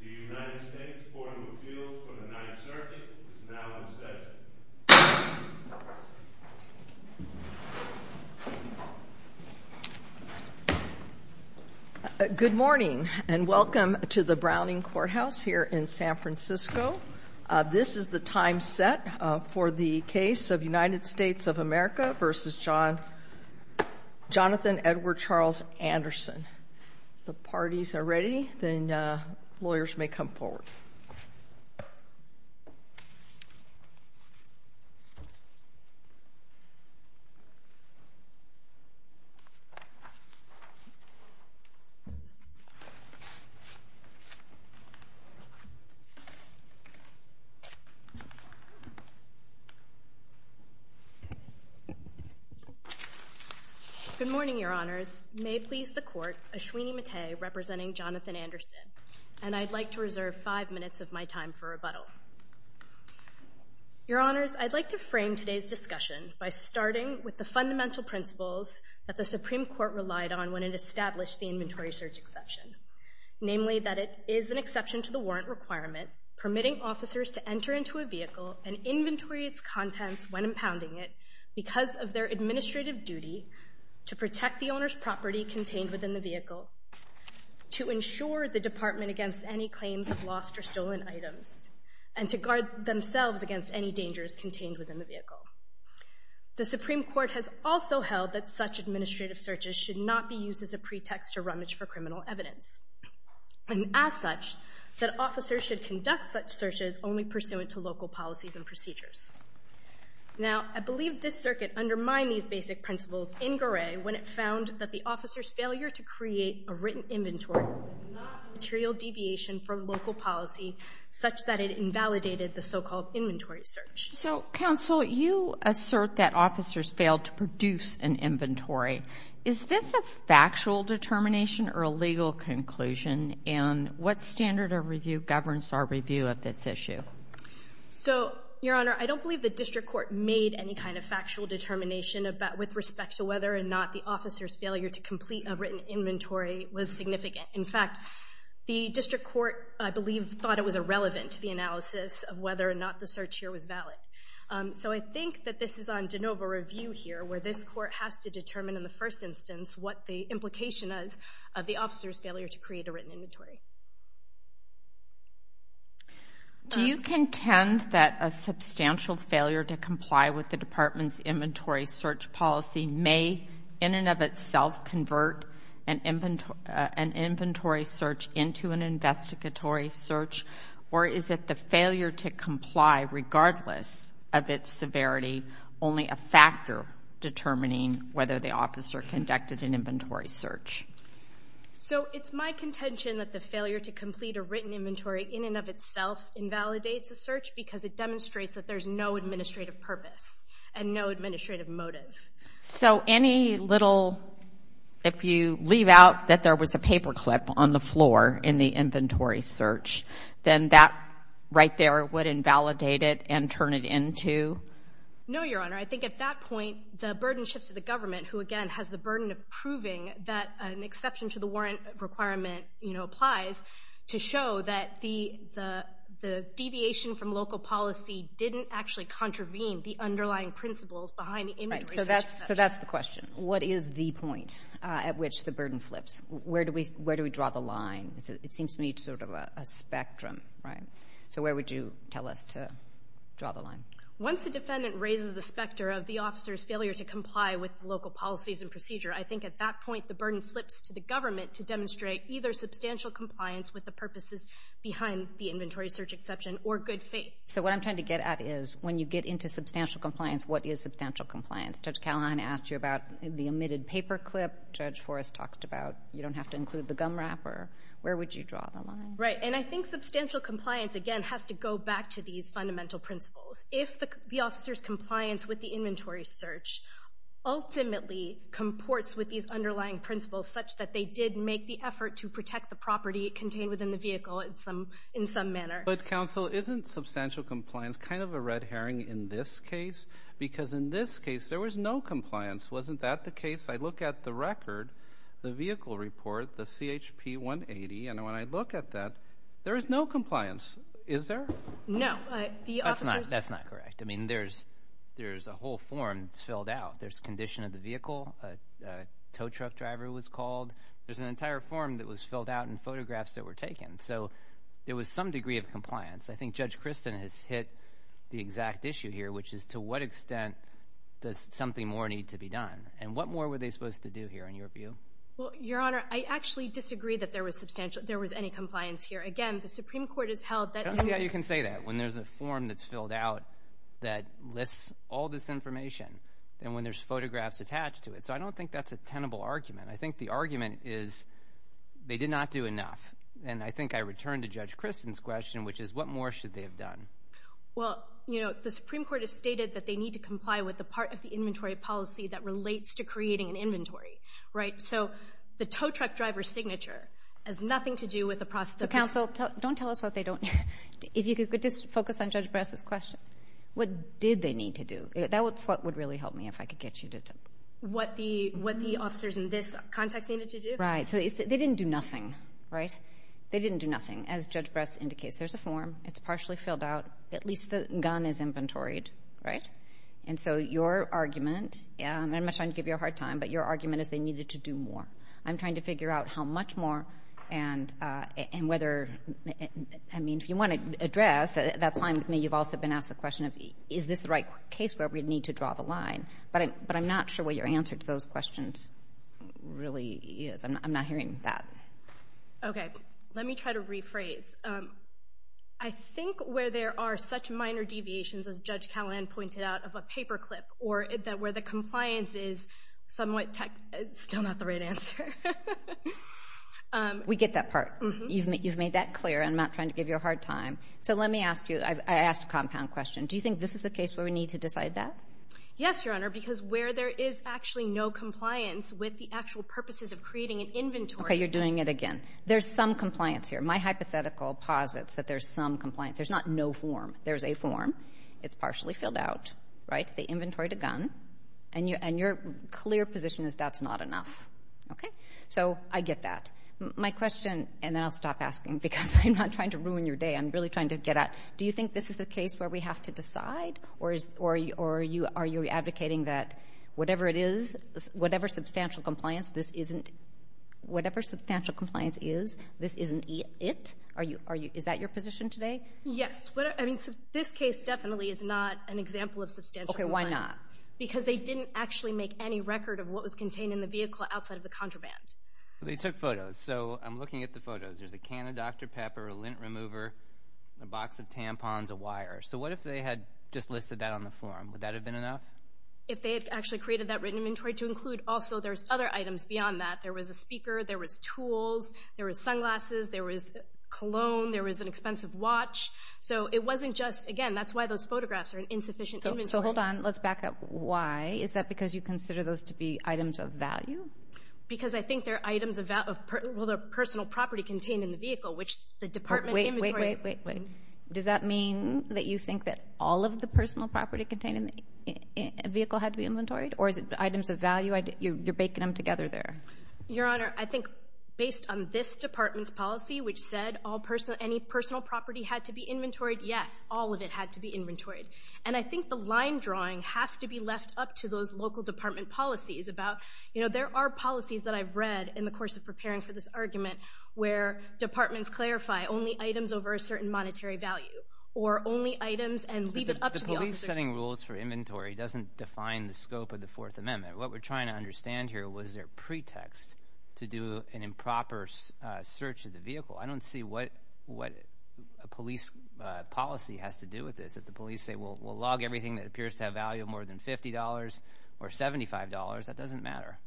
The United States Court of Appeals for the Ninth Circuit is now in session. Good morning and welcome to the Browning Courthouse here in San Francisco. This is the time set for the case of United States of America v. Jonathan Edward Charles Anderson. If the parties are ready, then lawyers may come forward. Good morning, Your Honors. Your Honors, I'd like to frame today's discussion by starting with the fundamental principles that the Supreme Court relied on when it established the inventory search exception, namely that it is an exception to the warrant requirement permitting officers to enter into a vehicle and inventory its contents when impounding it because of their within the vehicle, to ensure the Department against any claims of lost or stolen items, and to guard themselves against any dangers contained within the vehicle. The Supreme Court has also held that such administrative searches should not be used as a pretext to rummage for criminal evidence, and as such, that officers should conduct such searches only pursuant to local policies and procedures. Now, I believe this Circuit undermined these basic principles in Goray when it found that the officer's failure to create a written inventory was not a material deviation from local policy such that it invalidated the so-called inventory search. So, Counsel, you assert that officers failed to produce an inventory. Is this a factual determination or a legal conclusion, and what standard of review governs our review of this issue? So, Your Honor, I don't believe the District Court made any kind of factual determination with respect to whether or not the officer's failure to complete a written inventory was significant. In fact, the District Court, I believe, thought it was irrelevant to the analysis of whether or not the search here was valid. So I think that this is on de novo review here, where this Court has to determine in the first instance what the implication is of the officer's failure to create a written inventory. Do you contend that a substantial failure to comply with the Department's inventory search policy may, in and of itself, convert an inventory search into an investigatory search, or is it the failure to comply, regardless of its severity, only a factor determining whether the officer conducted an inventory search? So it's my contention that the failure to complete a written inventory in and of itself invalidates a search because it demonstrates that there's no administrative purpose and no administrative motive. So any little, if you leave out that there was a paperclip on the floor in the inventory search, then that right there would invalidate it and turn it into? No, Your Honor. I think at that point, the burden shifts to the government, who, again, has the burden of proving that an exception to the warrant requirement applies to show that the deviation from local policy didn't actually contravene the underlying principles behind the inventory search. So that's the question. What is the point at which the burden flips? Where do we draw the line? It seems to me it's sort of a spectrum, right? So where would you tell us to draw the line? Once a defendant raises the specter of the officer's failure to comply with local policies and procedure, I think at that point the burden flips to the government to demonstrate either substantial compliance with the purposes behind the inventory search exception or good faith. So what I'm trying to get at is when you get into substantial compliance, what is substantial compliance? Judge Callahan asked you about the omitted paperclip. Judge Forrest talked about you don't have to include the gum wrapper. Where would you draw the line? Right, and I think substantial compliance, again, has to go back to these fundamental principles. If the officer's compliance with the inventory search ultimately comports with these underlying principles such that they did make the effort to protect the property contained within the vehicle in some manner. But, counsel, isn't substantial compliance kind of a red herring in this case? Because in this case there was no compliance. Wasn't that the case? I look at the record, the vehicle report, the CHP 180, and when I look at that, there is no compliance. Is there? No. That's not correct. I mean, there's a whole form that's filled out. There's condition of the vehicle, a tow truck driver was called. There's an entire form that was filled out and photographs that were taken. So there was some degree of compliance. I think Judge Christin has hit the exact issue here, which is to what extent does something more need to be done? And what more were they supposed to do here in your view? Well, Your Honor, I actually disagree that there was any compliance here. Again, the Supreme Court has held that there was. I don't see how you can say that when there's a form that's filled out that lists all this information and when there's photographs attached to it. So I don't think that's a tenable argument. I think the argument is they did not do enough. And I think I return to Judge Christin's question, which is what more should they have done? Well, you know, the Supreme Court has stated that they need to comply with the part of the inventory policy that relates to creating an inventory, right? And so the tow truck driver's signature has nothing to do with the process of this. Counsel, don't tell us what they don't. If you could just focus on Judge Bress's question. What did they need to do? That's what would really help me if I could get you to tell me. What the officers in this context needed to do. Right. So they didn't do nothing, right? They didn't do nothing, as Judge Bress indicates. There's a form. It's partially filled out. At least the gun is inventoried, right? And so your argument, and I'm not trying to give you a hard time, but your argument is they needed to do more. I'm trying to figure out how much more and whether, I mean, if you want to address, that's fine with me. You've also been asked the question of is this the right case where we need to draw the line. But I'm not sure what your answer to those questions really is. I'm not hearing that. Okay. Let me try to rephrase. I think where there are such minor deviations, as Judge Callahan pointed out, of a paperclip, or where the compliance is somewhat still not the right answer. We get that part. You've made that clear. I'm not trying to give you a hard time. So let me ask you, I asked a compound question. Do you think this is the case where we need to decide that? Yes, Your Honor, because where there is actually no compliance with the actual purposes of creating an inventory. Okay. You're doing it again. There's some compliance here. My hypothetical posits that there's some compliance. There's not no form. There's a form. It's partially filled out, right? It's the inventory to gun. And your clear position is that's not enough. Okay. So I get that. My question, and then I'll stop asking because I'm not trying to ruin your day. I'm really trying to get at, do you think this is the case where we have to decide? Or are you advocating that whatever it is, whatever substantial compliance this isn't, whatever substantial compliance is, this isn't it? Is that your position today? Yes. This case definitely is not an example of substantial compliance. Okay. Why not? Because they didn't actually make any record of what was contained in the vehicle outside of the contraband. They took photos. So I'm looking at the photos. There's a can of Dr. Pepper, a lint remover, a box of tampons, a wire. So what if they had just listed that on the form? Would that have been enough? If they had actually created that written inventory to include, also there's other items beyond that. There was a speaker. There was tools. There was sunglasses. There was cologne. There was an expensive watch. So it wasn't just, again, that's why those photographs are an insufficient inventory. So hold on. Let's back up. Why? Is that because you consider those to be items of value? Because I think they're items of value. Well, they're personal property contained in the vehicle, which the Department of Inventory. Wait, wait, wait, wait, wait. Does that mean that you think that all of the personal property contained in the vehicle had to be inventoried? Or is it items of value? You're baking them together there. Your Honor, I think based on this Department's policy, which said any personal property had to be inventoried, yes. All of it had to be inventoried. And I think the line drawing has to be left up to those local department policies about, you know, there are policies that I've read in the course of preparing for this argument where departments clarify only items over a certain monetary value or only items and leave it up to the officers. But the police setting rules for inventory doesn't define the scope of the Fourth Amendment. What we're trying to understand here, was there a pretext to do an improper search of the vehicle? I don't see what a police policy has to do with this, that the police say, well, we'll log everything that appears to have value more than $50 or $75. That doesn't matter.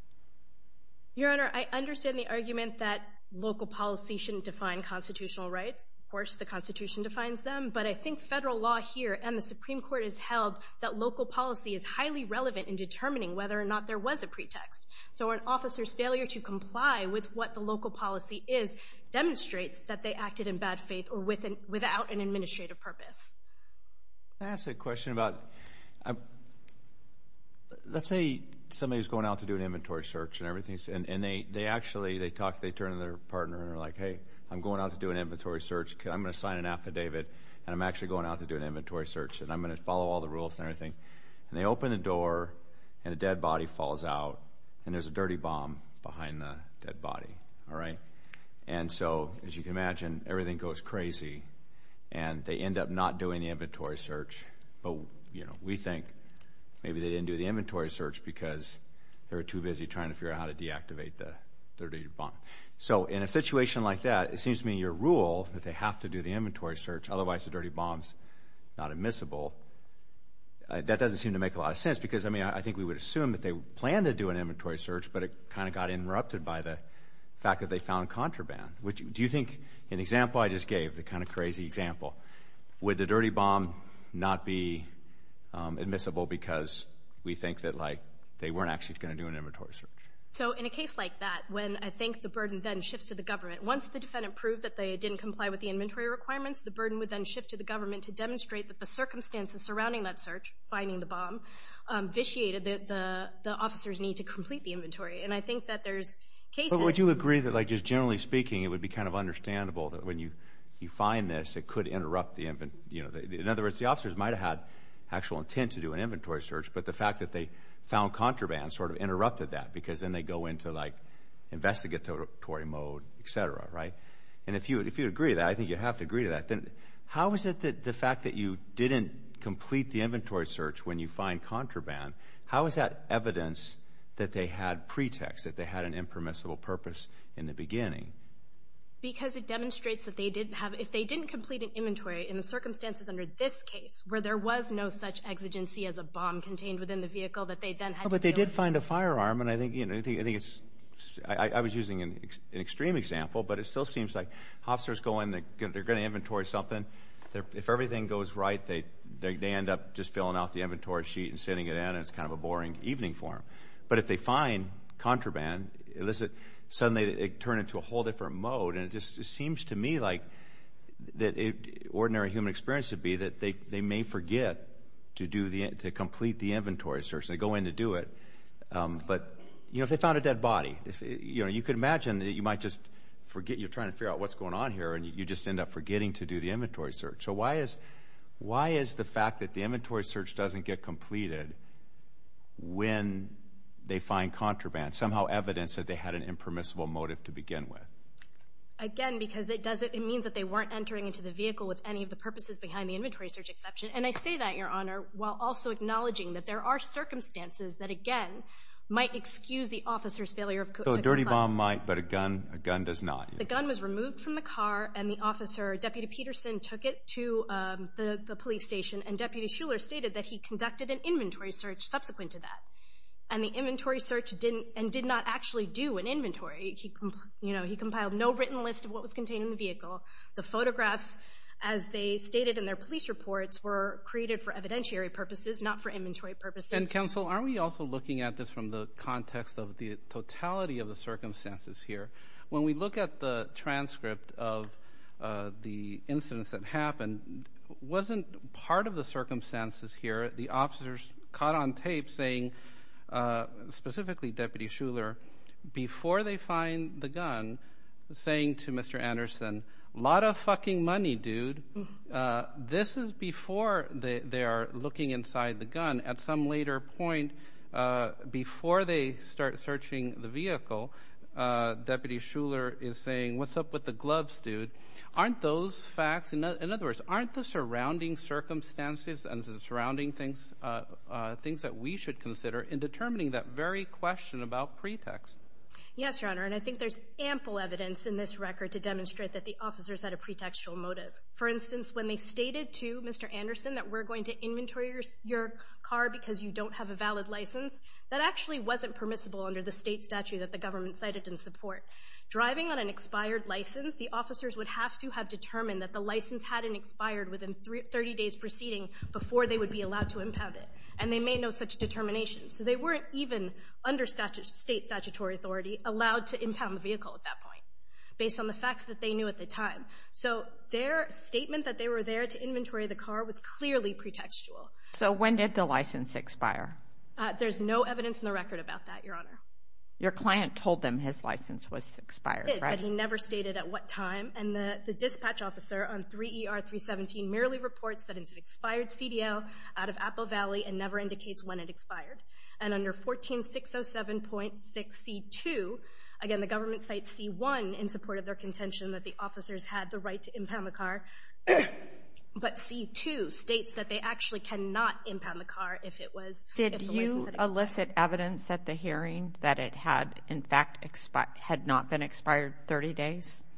Your Honor, I understand the argument that local policy shouldn't define constitutional rights. Of course, the Constitution defines them. But I think federal law here and the Supreme Court has held that local policy is highly relevant in determining whether or not there was a pretext. So an officer's failure to comply with what the local policy is demonstrates that they acted in bad faith or without an administrative purpose. Can I ask a question about, let's say somebody's going out to do an inventory search and everything, and they actually, they talk, they turn to their partner and are like, hey, I'm going out to do an inventory search. I'm going to sign an affidavit, and I'm actually going out to do an inventory search, and I'm going to follow all the rules and everything. And they open the door, and a dead body falls out, and there's a dirty bomb behind the dead body. And so, as you can imagine, everything goes crazy, and they end up not doing the inventory search. But, you know, we think maybe they didn't do the inventory search because they were too busy trying to figure out how to deactivate the dirty bomb. So in a situation like that, it seems to me your rule that they have to do the inventory search, otherwise the dirty bomb's not admissible, that doesn't seem to make a lot of sense, because, I mean, I think we would assume that they planned to do an inventory search, but it kind of got interrupted by the fact that they found contraband. Do you think an example I just gave, the kind of crazy example, would the dirty bomb not be admissible because we think that, like, they weren't actually going to do an inventory search? So in a case like that, when I think the burden then shifts to the government, once the defendant proved that they didn't comply with the inventory requirements, the burden would then shift to the government to demonstrate that the circumstances surrounding that search, finding the bomb, vitiated the officer's need to complete the inventory. And I think that there's cases. But would you agree that, like, just generally speaking, it would be kind of understandable that when you find this, it could interrupt the inventory. In other words, the officers might have had actual intent to do an inventory search, but the fact that they found contraband sort of interrupted that because then they go into, like, investigatory mode, et cetera, right? And if you agree to that, I think you have to agree to that, then how is it that the fact that you didn't complete the inventory search when you find contraband, how is that evidence that they had pretext, that they had an impermissible purpose in the beginning? Because it demonstrates that they didn't have – if they didn't complete an inventory in the circumstances under this case, where there was no such exigency as a bomb contained within the vehicle that they then had to deal with. But they did find a firearm, and I think, you know, I think it's – I was using an extreme example, but it still seems like officers go in, they're going to inventory something. If everything goes right, they end up just filling out the inventory sheet and sending it in, and it's kind of a boring evening for them. But if they find contraband, suddenly it turned into a whole different mode, and it just seems to me like that ordinary human experience would be that they may forget to do the – to complete the inventory search, and they go in to do it. But, you know, if they found a dead body, you know, you could imagine that you might just forget – you're trying to figure out what's going on here, and you just end up forgetting to do the inventory search. So why is the fact that the inventory search doesn't get completed when they find contraband, and somehow evidence that they had an impermissible motive to begin with? Again, because it doesn't – it means that they weren't entering into the vehicle with any of the purposes behind the inventory search exception. And I say that, Your Honor, while also acknowledging that there are circumstances that, again, might excuse the officer's failure to comply. So a dirty bomb might, but a gun does not. The gun was removed from the car, and the officer, Deputy Peterson, took it to the police station, and Deputy Shuler stated that he conducted an inventory search subsequent to that. And the inventory search didn't – and did not actually do an inventory. You know, he compiled no written list of what was contained in the vehicle. The photographs, as they stated in their police reports, were created for evidentiary purposes, not for inventory purposes. And, Counsel, aren't we also looking at this from the context of the totality of the circumstances here? When we look at the transcript of the incidents that happened, wasn't part of the circumstances here where the officers caught on tape saying, specifically Deputy Shuler, before they find the gun, saying to Mr. Anderson, Lot of fucking money, dude. This is before they are looking inside the gun. At some later point, before they start searching the vehicle, Deputy Shuler is saying, What's up with the gloves, dude? Aren't those facts – in other words, aren't the surrounding circumstances and the surrounding things things that we should consider in determining that very question about pretext? Yes, Your Honor, and I think there's ample evidence in this record to demonstrate that the officers had a pretextual motive. For instance, when they stated to Mr. Anderson that we're going to inventory your car because you don't have a valid license, that actually wasn't permissible under the state statute that the government cited in support. Driving on an expired license, the officers would have to have determined that the license hadn't expired within 30 days preceding before they would be allowed to impound it, and they made no such determination. So they weren't even, under state statutory authority, allowed to impound the vehicle at that point based on the facts that they knew at the time. So their statement that they were there to inventory the car was clearly pretextual. So when did the license expire? There's no evidence in the record about that, Your Honor. Your client told them his license was expired, right? But he never stated at what time, and the dispatch officer on 3ER317 merely reports that it's an expired CDL out of Apple Valley and never indicates when it expired. And under 14607.6C2, again, the government cites C1 in support of their contention that the officers had the right to impound the car, but C2 states that they actually cannot impound the car if the license had expired.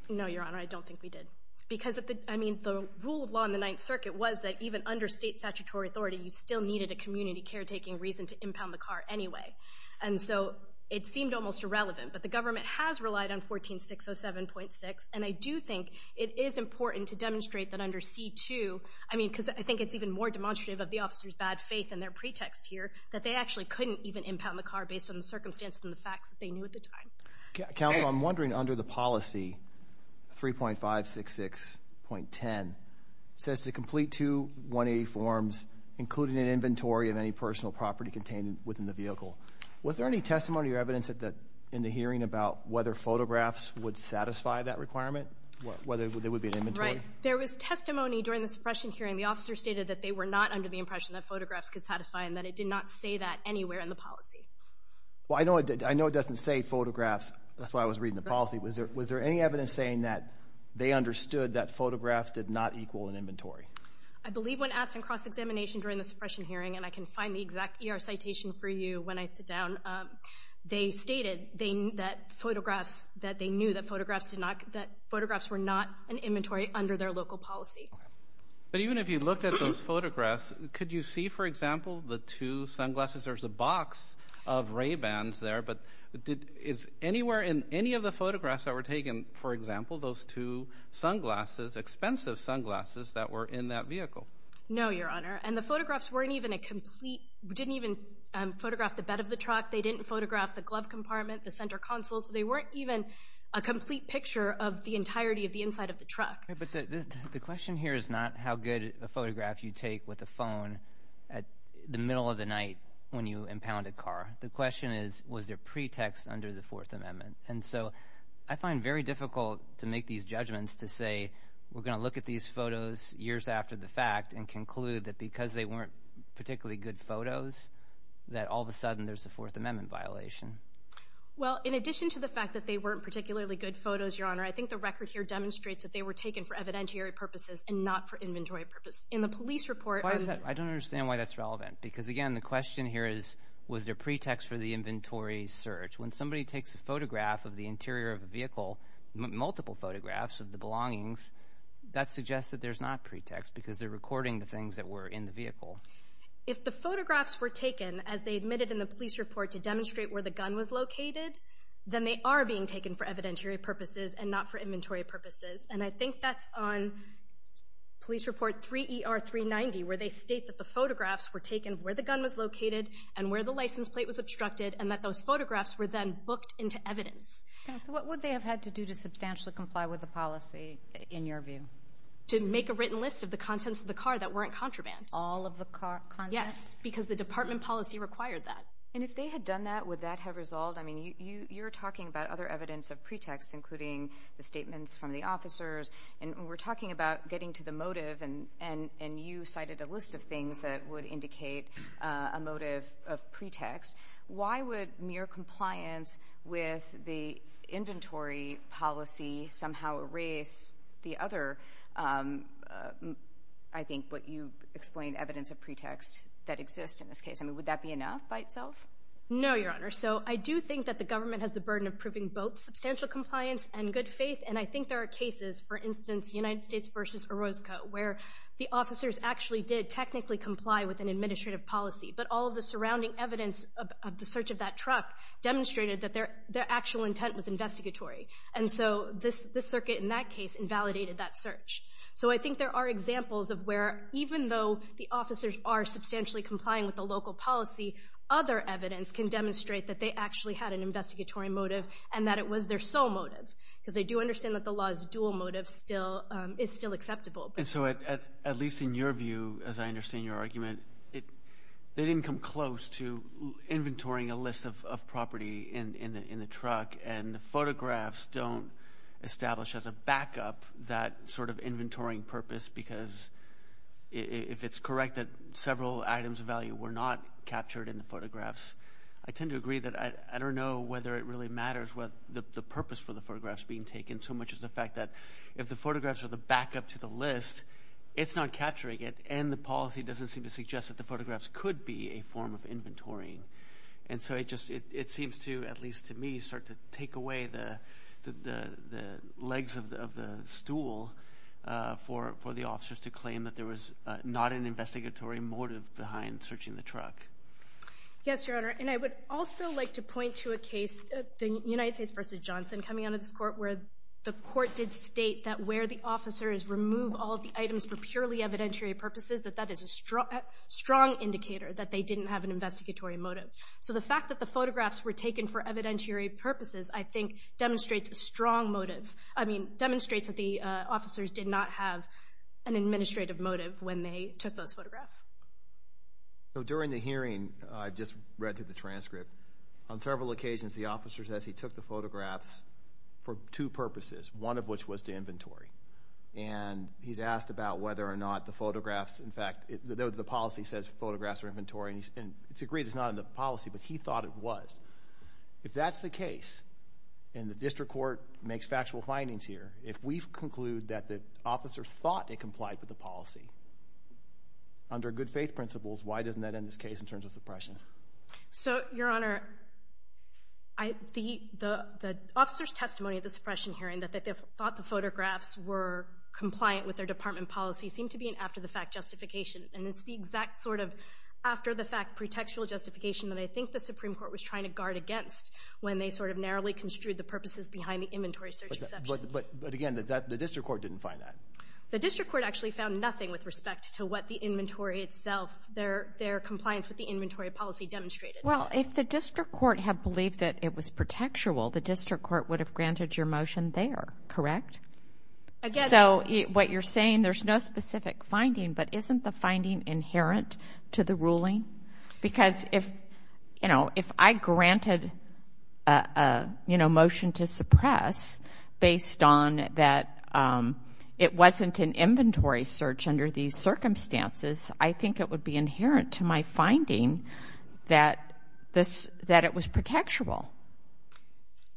No, Your Honor, I don't think we did. Because, I mean, the rule of law in the Ninth Circuit was that even under state statutory authority, you still needed a community caretaking reason to impound the car anyway. And so it seemed almost irrelevant. But the government has relied on 14607.6, and I do think it is important to demonstrate that under C2, I mean, because I think it's even more demonstrative of the officers' bad faith and their pretext here that they actually couldn't even impound the car based on the circumstances and the facts that they knew at the time. Counsel, I'm wondering, under the policy 3.566.10, it says to complete two 180 forms, including an inventory of any personal property contained within the vehicle. Was there any testimony or evidence in the hearing about whether photographs would satisfy that requirement, whether there would be an inventory? Right. There was testimony during the suppression hearing. The officer stated that they were not under the impression that photographs could satisfy and that it did not say that anywhere in the policy. Well, I know it doesn't say photographs. That's why I was reading the policy. Was there any evidence saying that they understood that photographs did not equal an inventory? I believe when asked in cross-examination during the suppression hearing, and I can find the exact ER citation for you when I sit down, they stated that photographs were not an inventory under their local policy. But even if you looked at those photographs, could you see, for example, the two sunglasses? There's a box of Ray-Bans there, but is anywhere in any of the photographs that were taken, for example, those two sunglasses, expensive sunglasses that were in that vehicle? No, Your Honor. And the photographs weren't even a complete – didn't even photograph the bed of the truck. They didn't photograph the glove compartment, the center console. So they weren't even a complete picture of the entirety of the inside of the truck. But the question here is not how good a photograph you take with a phone at the middle of the night when you impound a car. The question is, was there pretext under the Fourth Amendment? And so I find it very difficult to make these judgments to say, we're going to look at these photos years after the fact and conclude that because they weren't particularly good photos that all of a sudden there's a Fourth Amendment violation. Your Honor, I think the record here demonstrates that they were taken for evidentiary purposes and not for inventory purposes. In the police report – I don't understand why that's relevant because, again, the question here is, was there pretext for the inventory search? When somebody takes a photograph of the interior of a vehicle, multiple photographs of the belongings, that suggests that there's not pretext because they're recording the things that were in the vehicle. If the photographs were taken, as they admitted in the police report, to demonstrate where the gun was located, then they are being taken for evidentiary purposes and not for inventory purposes. And I think that's on police report 3ER390 where they state that the photographs were taken where the gun was located and where the license plate was obstructed and that those photographs were then booked into evidence. Counsel, what would they have had to do to substantially comply with the policy, in your view? To make a written list of the contents of the car that weren't contraband. All of the car contents? Yes, because the department policy required that. And if they had done that, would that have resolved? I mean, you're talking about other evidence of pretext, including the statements from the officers, and we're talking about getting to the motive, and you cited a list of things that would indicate a motive of pretext. Why would mere compliance with the inventory policy somehow erase the other, I think, what you explained, evidence of pretext that exists in this case? I mean, would that be enough by itself? No, Your Honor. So I do think that the government has the burden of proving both substantial compliance and good faith, and I think there are cases, for instance, United States v. Orozco, where the officers actually did technically comply with an administrative policy, but all of the surrounding evidence of the search of that truck demonstrated that their actual intent was investigatory. And so this circuit in that case invalidated that search. So I think there are examples of where, even though the officers are substantially complying with the local policy, other evidence can demonstrate that they actually had an investigatory motive and that it was their sole motive, because they do understand that the law's dual motive is still acceptable. And so, at least in your view, as I understand your argument, they didn't come close to inventorying a list of property in the truck, and the photographs don't establish as a backup that sort of inventorying purpose because if it's correct that several items of value were not captured in the photographs, I tend to agree that I don't know whether it really matters what the purpose for the photographs being taken, so much as the fact that if the photographs are the backup to the list, it's not capturing it, and the policy doesn't seem to suggest that the photographs could be a form of inventorying. And so it just seems to, at least to me, start to take away the legs of the stool for the officers to claim that there was not an investigatory motive behind searching the truck. Yes, Your Honor, and I would also like to point to a case, the United States v. Johnson, coming out of this court, where the court did state that where the officers remove all of the items for purely evidentiary purposes, that that is a strong indicator that they didn't have an investigatory motive. So the fact that the photographs were taken for evidentiary purposes, I think, demonstrates a strong motive. I mean, demonstrates that the officers did not have an administrative motive when they took those photographs. So during the hearing, I just read through the transcript, on several occasions the officer says he took the photographs for two purposes, one of which was to inventory. And he's asked about whether or not the photographs, in fact, the policy says photographs are inventory, and it's agreed it's not in the policy, but he thought it was. If that's the case, and the district court makes factual findings here, if we conclude that the officers thought they complied with the policy, under good faith principles, why doesn't that end this case in terms of suppression? So, Your Honor, the officers' testimony at the suppression hearing, that they thought the photographs were compliant with their department policy, seemed to be an after-the-fact justification. And it's the exact sort of after-the-fact pretextual justification that I think the Supreme Court was trying to guard against when they sort of narrowly construed the purposes behind the inventory search exception. But, again, the district court didn't find that. The district court actually found nothing with respect to what the inventory itself, their compliance with the inventory policy demonstrated. Well, if the district court had believed that it was pretextual, the district court would have granted your motion there, correct? So, what you're saying, there's no specific finding, but isn't the finding inherent to the ruling? Because if I granted a motion to suppress based on that it wasn't an inventory search under these circumstances, I think it would be inherent to my finding that it was pretextual.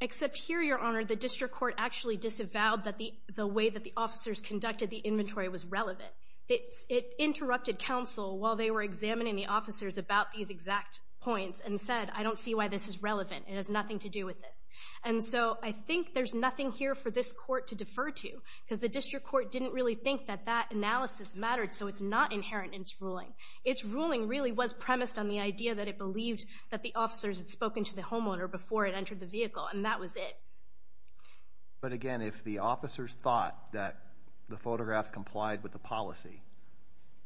Except here, Your Honor, the district court actually disavowed that the way that the officers conducted the inventory was relevant. It interrupted counsel while they were examining the officers about these exact points and said, I don't see why this is relevant. It has nothing to do with this. And so I think there's nothing here for this court to defer to because the district court didn't really think that that analysis mattered, so it's not inherent in its ruling. Its ruling really was premised on the idea that it believed that the officers had spoken to the homeowner before it entered the vehicle, and that was it. But again, if the officers thought that the photographs complied with the policy,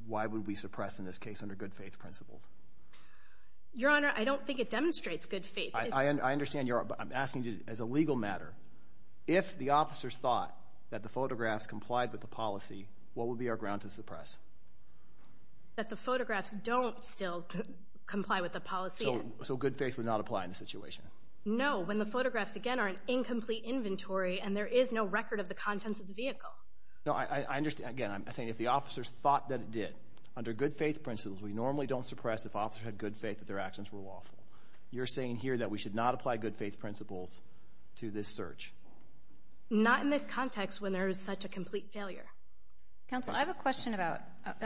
why would we suppress in this case under good faith principles? Your Honor, I don't think it demonstrates good faith. I understand, but I'm asking you as a legal matter. If the officers thought that the photographs complied with the policy, what would be our ground to suppress? That the photographs don't still comply with the policy. So good faith would not apply in this situation? No, when the photographs, again, are an incomplete inventory and there is no record of the contents of the vehicle. No, I understand. Again, I'm saying if the officers thought that it did under good faith principles, we normally don't suppress if officers had good faith that their actions were lawful. You're saying here that we should not apply good faith principles to this search? Not in this context when there is such a complete failure. Counsel, I have a question about the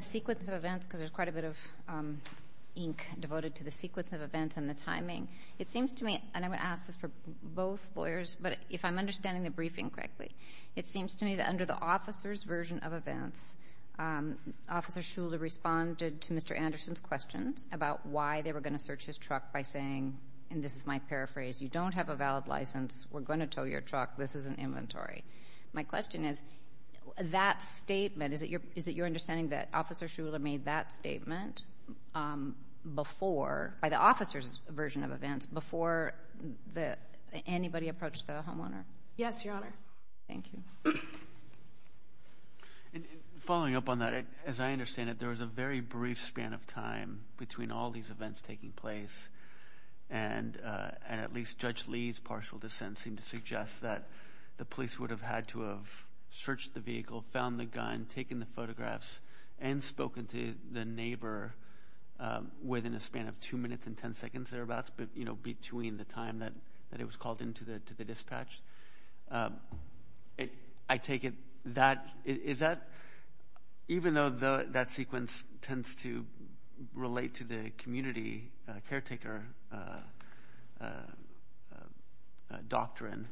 sequence of events because there's quite a bit of ink devoted to the sequence of events and the timing. It seems to me, and I'm going to ask this for both lawyers, but if I'm understanding the briefing correctly, it seems to me that under the officer's version of events, Officer Shuler responded to Mr. Anderson's questions about why they were going to search his truck by saying, and this is my paraphrase, you don't have a valid license, we're going to tow your truck, this is an inventory. My question is, that statement, is it your understanding that Officer Shuler made that statement before, by the officer's version of events, before anybody approached the homeowner? Yes, Your Honor. Thank you. Following up on that, as I understand it, there was a very brief span of time between all these events taking place and at least Judge Lee's partial dissent seemed to suggest that the police would have had to have searched the vehicle, found the gun, taken the photographs, and spoken to the neighbor within a span of 2 minutes and 10 seconds thereabouts, between the time that it was called into the dispatch. I take it that, is that, even though that sequence tends to relate to the community caretaker doctrine,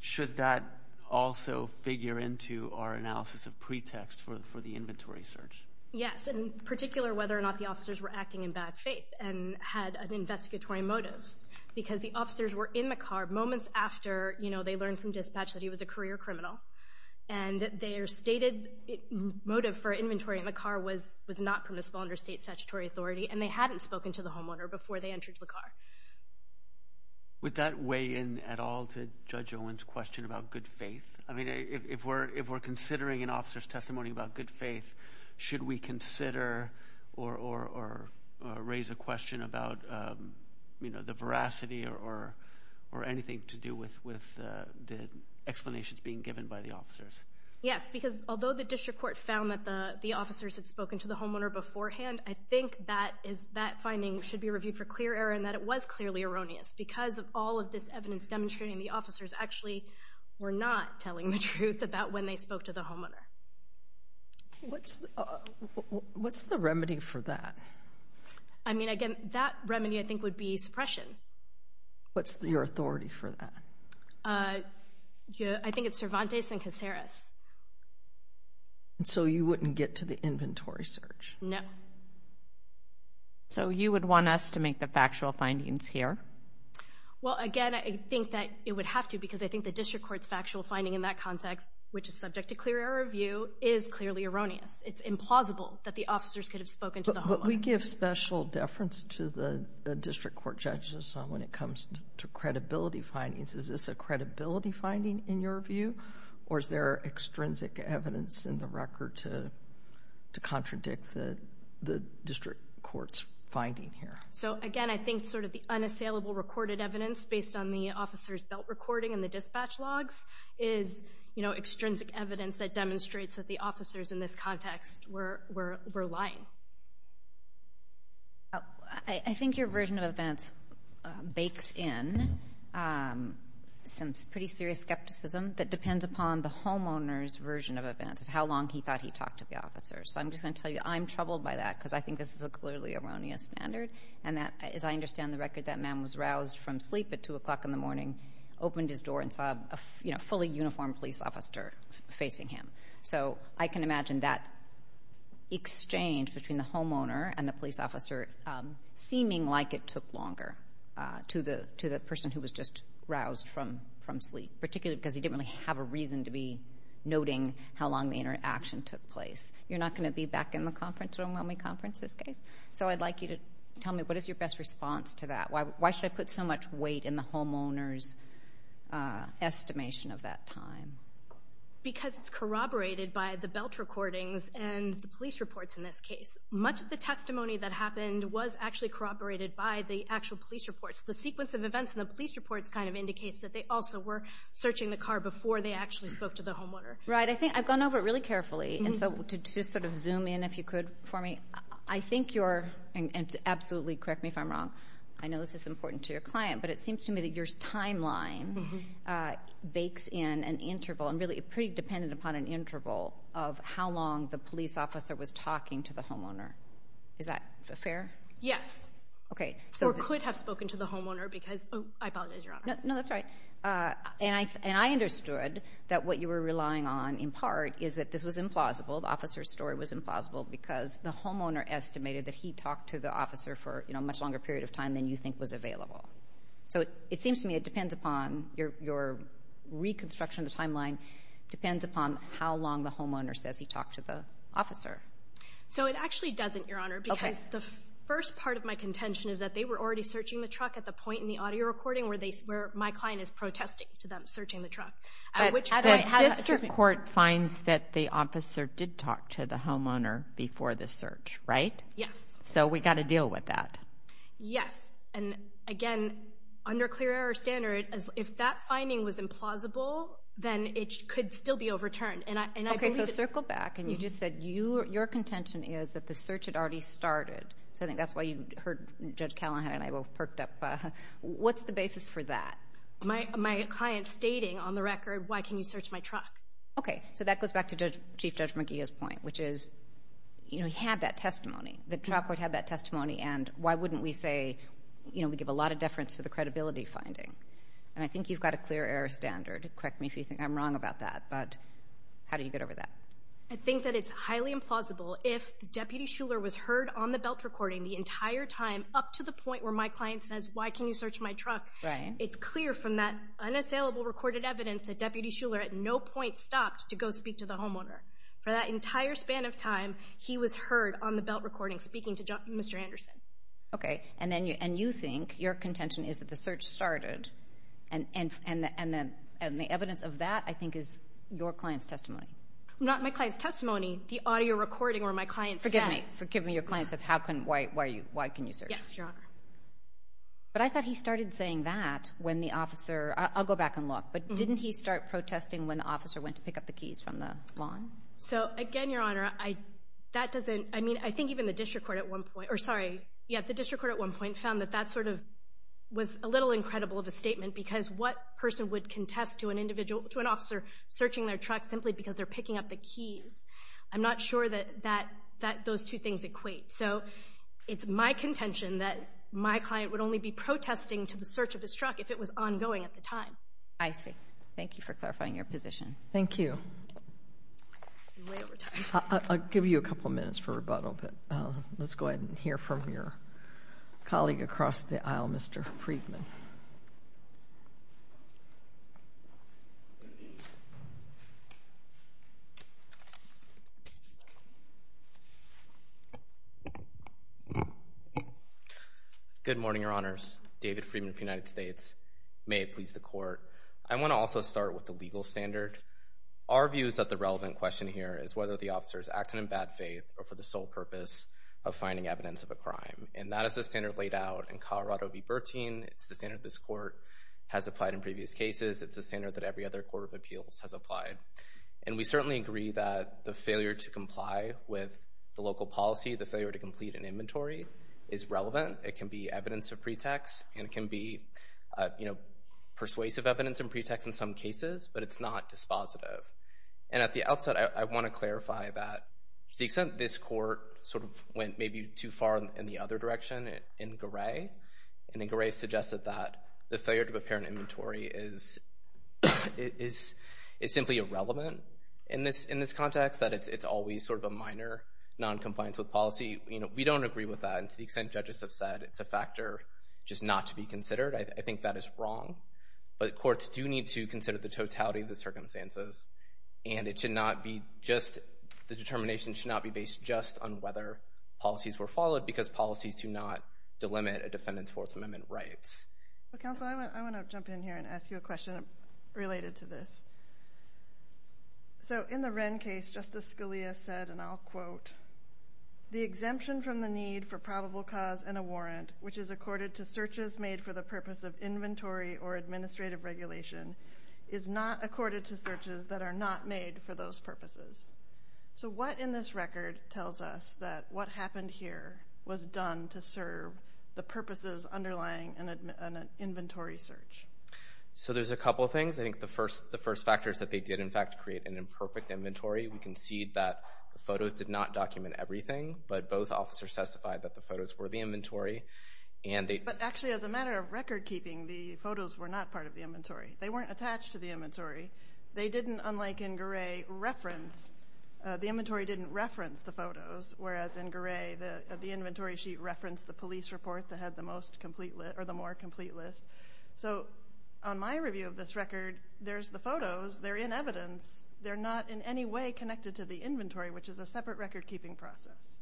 should that also figure into our analysis of pretext for the inventory search? Yes, in particular whether or not the officers were acting in bad faith and had an investigatory motive, because the officers were in the car moments after, you know, they learned from dispatch that he was a career criminal, and their stated motive for inventory in the car was not permissible under state statutory authority, and they hadn't spoken to the homeowner before they entered the car. Would that weigh in at all to Judge Owen's question about good faith? I mean, if we're considering an officer's testimony about good faith, should we consider or raise a question about, you know, the veracity or anything to do with the explanations being given by the officers? Yes, because although the district court found that the officers had spoken to the homeowner beforehand, I think that finding should be reviewed for clear error and that it was clearly erroneous because of all of this evidence demonstrating the officers actually were not telling the truth about when they spoke to the homeowner. What's the remedy for that? I mean, again, that remedy, I think, would be suppression. What's your authority for that? I think it's Cervantes and Caceres. And so you wouldn't get to the inventory search? No. So you would want us to make the factual findings here? Well, again, I think that it would have to because I think the district court's factual finding in that context, which is subject to clear error review, is clearly erroneous. It's implausible that the officers could have spoken to the homeowner. But we give special deference to the district court judges when it comes to credibility findings. Is this a credibility finding in your view? Or is there extrinsic evidence in the record to contradict the district court's finding here? So, again, I think sort of the unassailable recorded evidence based on the officers' belt recording and the dispatch logs is, you know, extrinsic evidence that demonstrates that the officers in this context were lying. I think your version of events bakes in some pretty serious skepticism that depends upon the homeowner's version of events of how long he thought he talked to the officers. So I'm just going to tell you I'm troubled by that because I think this is a clearly erroneous standard and that, as I understand the record, that man was roused from sleep at 2 o'clock in the morning, opened his door and saw a fully uniformed police officer facing him. So I can imagine that exchange between the homeowner and the police officer seeming like it took longer to the person who was just roused from sleep, particularly because he didn't really have a reason to be noting how long the interaction took place. You're not going to be back in the conference room when we conference this case. So I'd like you to tell me what is your best response to that. Why should I put so much weight in the homeowner's estimation of that time? Because it's corroborated by the belt recordings and the police reports in this case. Much of the testimony that happened was actually corroborated by the actual police reports. The sequence of events in the police reports kind of indicates that they also were searching the car before they actually spoke to the homeowner. Right. I think I've gone over it really carefully, and so to sort of zoom in, if you could, for me, I think you're, and absolutely correct me if I'm wrong, I know this is important to your client, but it seems to me that your timeline bakes in an interval, and really pretty dependent upon an interval, of how long the police officer was talking to the homeowner. Is that fair? Yes. Or could have spoken to the homeowner because I apologize, Your Honor. No, that's right. And I understood that what you were relying on in part is that this was implausible, the officer's story was implausible because the homeowner estimated that he talked to the officer for a much longer period of time than you think was available. So it seems to me it depends upon your reconstruction of the timeline, depends upon how long the homeowner says he talked to the officer. So it actually doesn't, Your Honor, because the first part of my contention is that they were already searching the truck at the point in the audio recording where my client is protesting to them searching the truck. But the district court finds that the officer did talk to the homeowner before the search, right? Yes. So we've got to deal with that. Yes, and again, under clear error standard, if that finding was implausible, then it could still be overturned. Okay, so circle back, and you just said your contention is that the search had already started. So I think that's why you heard Judge Callahan and I both perked up. What's the basis for that? My client stating on the record, why can you search my truck? Okay, so that goes back to Chief Judge McGeeh's point, which is he had that testimony. The trial court had that testimony, and why wouldn't we say we give a lot of deference to the credibility finding? And I think you've got a clear error standard. Correct me if you think I'm wrong about that, but how do you get over that? I think that it's highly implausible if Deputy Shuler was heard on the belt recording the entire time up to the point where my client says, Why can you search my truck? It's clear from that unassailable recorded evidence that Deputy Shuler at no point stopped to go speak to the homeowner. For that entire span of time, he was heard on the belt recording speaking to Mr. Anderson. Okay, and you think your contention is that the search started, and the evidence of that I think is your client's testimony. Not my client's testimony. The audio recording where my client says. Forgive me. Your client says, Why can you search? Yes, Your Honor. But I thought he started saying that when the officer, I'll go back and look, but didn't he start protesting when the officer went to pick up the keys from the lawn? So, again, Your Honor, that doesn't, I mean, I think even the district court at one point, or sorry, yeah, the district court at one point found that that sort of was a little incredible of a statement because what person would contest to an individual, to an officer searching their truck simply because they're picking up the keys? I'm not sure that those two things equate. So, it's my contention that my client would only be protesting to the search of his truck if it was ongoing at the time. I see. Thank you for clarifying your position. Thank you. I'm way over time. I'll give you a couple minutes for rebuttal, but let's go ahead and hear from your colleague across the aisle, Mr. Friedman. Good morning, Your Honors. David Friedman of the United States. May it please the Court, I want to also start with the legal standard. Our view is that the relevant question here is whether the officer is acting in bad faith or for the sole purpose of finding evidence of a crime, and that is the standard laid out in Colorado v. Bertine. It's the standard this Court has applied in previous cases. It's the standard that every other court of appeals has applied, and we certainly agree that the failure to comply with the local policy, the failure to complete an inventory is relevant. To the extent it can be evidence of pretext, and it can be persuasive evidence and pretext in some cases, but it's not dispositive. And at the outset, I want to clarify that to the extent this Court sort of went maybe too far in the other direction in Garay, and then Garay suggested that the failure to prepare an inventory is simply irrelevant in this context, that it's always sort of a minor noncompliance with policy. You know, we don't agree with that, and to the extent judges have said it's a factor just not to be considered, I think that is wrong. But courts do need to consider the totality of the circumstances, and it should not be just—the determination should not be based just on whether policies were followed because policies do not delimit a defendant's Fourth Amendment rights. Well, Counsel, I want to jump in here and ask you a question related to this. So in the Wren case, Justice Scalia said, and I'll quote, the exemption from the need for probable cause and a warrant, which is accorded to searches made for the purpose of inventory or administrative regulation, is not accorded to searches that are not made for those purposes. So what in this record tells us that what happened here was done to serve the purposes underlying an inventory search? So there's a couple things. I think the first factor is that they did, in fact, create an imperfect inventory. We concede that the photos did not document everything, but both officers testified that the photos were the inventory, and they— But actually, as a matter of record keeping, the photos were not part of the inventory. They weren't attached to the inventory. They didn't, unlike in Gray, reference—the inventory didn't reference the photos, whereas in Gray, the inventory sheet referenced the police report that had the most complete list or the more complete list. So on my review of this record, there's the photos. They're in evidence. They're not in any way connected to the inventory, which is a separate record-keeping process.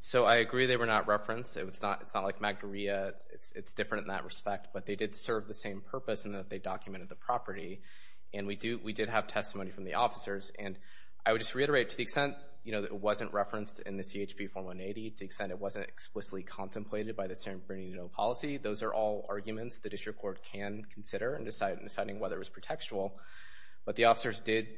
So I agree they were not referenced. It's not like Magdaria. It's different in that respect, but they did serve the same purpose in that they documented the property, and we did have testimony from the officers. And I would just reiterate, to the extent, you know, that it wasn't referenced in the CHP form 180, to the extent it wasn't explicitly contemplated by the San Bernardino policy, those are all arguments the district court can consider in deciding whether it was pretextual. But the officers did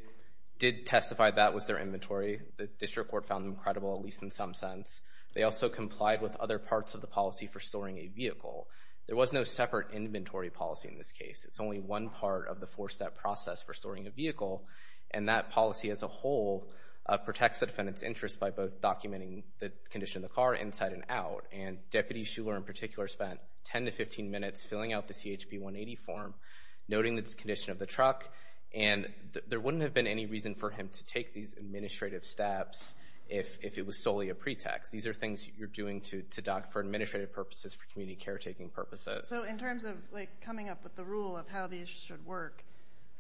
testify that was their inventory. The district court found them credible, at least in some sense. They also complied with other parts of the policy for storing a vehicle. There was no separate inventory policy in this case. It's only one part of the four-step process for storing a vehicle, and that policy as a whole protects the defendant's interest by both documenting the condition of the car inside and out. And Deputy Shuler, in particular, spent 10 to 15 minutes filling out the CHP 180 form, noting the condition of the truck. And there wouldn't have been any reason for him to take these administrative steps if it was solely a pretext. These are things you're doing to doc for administrative purposes, for community caretaking purposes. So in terms of, like, coming up with the rule of how these should work,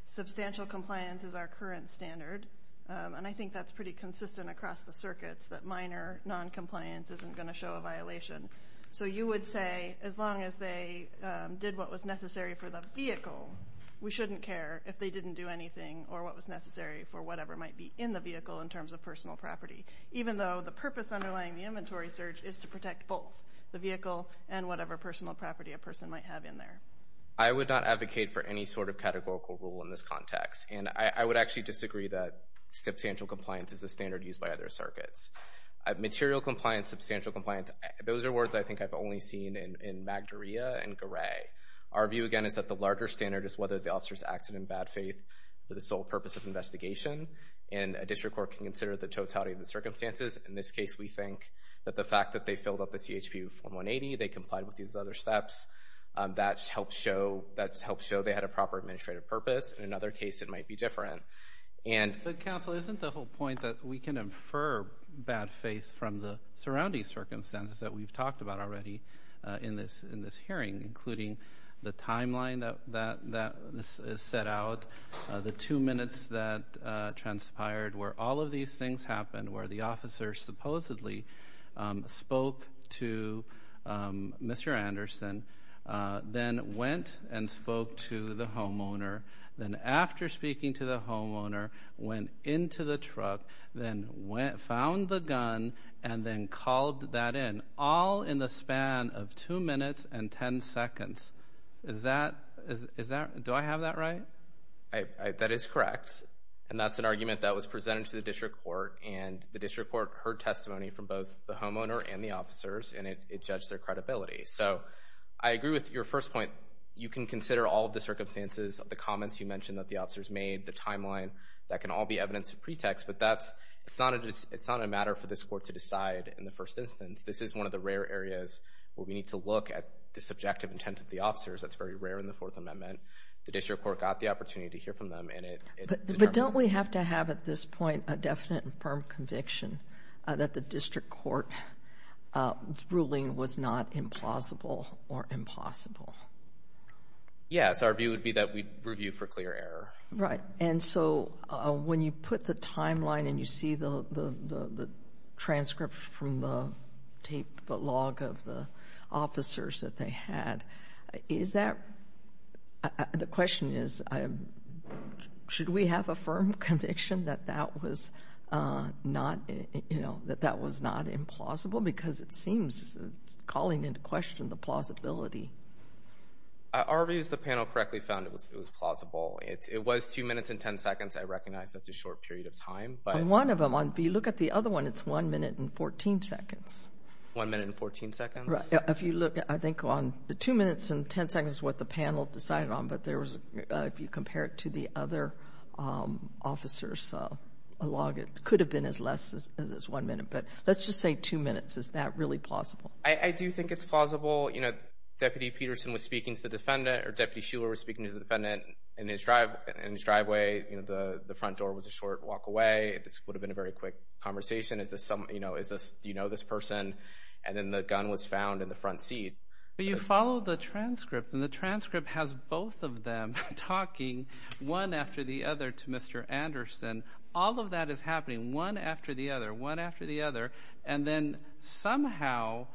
substantial compliance is our current standard. And I think that's pretty consistent across the circuits, that minor noncompliance isn't going to show a violation. So you would say, as long as they did what was necessary for the vehicle, we shouldn't care if they didn't do anything or what was necessary for whatever might be in the vehicle in terms of personal property, even though the purpose underlying the inventory search is to protect both the vehicle and whatever personal property a person might have in there. I would not advocate for any sort of categorical rule in this context. And I would actually disagree that substantial compliance is a standard used by other circuits. Material compliance, substantial compliance, those are words I think I've only seen in Magdaria and Garay. Our view, again, is that the larger standard is whether the officers acted in bad faith for the sole purpose of investigation. And a district court can consider the totality of the circumstances. In this case, we think that the fact that they filled out the CHPU form 180, they complied with these other steps, that helps show they had a proper administrative purpose. In another case, it might be different. But, Counsel, isn't the whole point that we can infer bad faith from the surrounding circumstances that we've talked about already in this hearing, including the timeline that this is set out, the two minutes that transpired, where all of these things happened, where the officer supposedly spoke to Mr. Anderson, then went and spoke to the homeowner, then after speaking to the homeowner, went into the truck, then found the gun, and then called that in, all in the span of two minutes and ten seconds. Is that, do I have that right? That is correct. And that's an argument that was presented to the district court, and the district court heard testimony from both the homeowner and the officers, and it judged their credibility. So, I agree with your first point. You can consider all of the circumstances, the comments you mentioned that the officers made, the timeline, that can all be evidence of pretext, but that's, it's not a matter for this court to decide in the first instance. This is one of the rare areas where we need to look at the subjective intent of the officers. That's very rare in the Fourth Amendment. The district court got the opportunity to hear from them, and it determined that. But don't we have to have, at this point, a definite and firm conviction that the district court's ruling was not implausible or impossible? Yes. Our view would be that we review for clear error. Right. And so, when you put the timeline and you see the transcript from the tape, the log of the officers that they had, is that, the question is, should we have a firm conviction that that was not, you know, that that was not implausible? Because it seems, calling into question the plausibility. Our view is the panel correctly found it was plausible. It was 2 minutes and 10 seconds. I recognize that's a short period of time. On one of them, if you look at the other one, it's 1 minute and 14 seconds. 1 minute and 14 seconds? Right. If you look, I think, on the 2 minutes and 10 seconds is what the panel decided on, but there was, if you compare it to the other officers' log, it could have been as less as 1 minute. But let's just say 2 minutes. Is that really plausible? I do think it's plausible. You know, Deputy Peterson was speaking to the defendant, or Deputy Shuler was speaking to the defendant in his driveway. You know, the front door was a short walk away. This would have been a very quick conversation. Is this some, you know, is this, do you know this person? And then the gun was found in the front seat. But you follow the transcript, and the transcript has both of them talking one after the other to Mr. Anderson. All of that is happening one after the other, one after the other. And then somehow,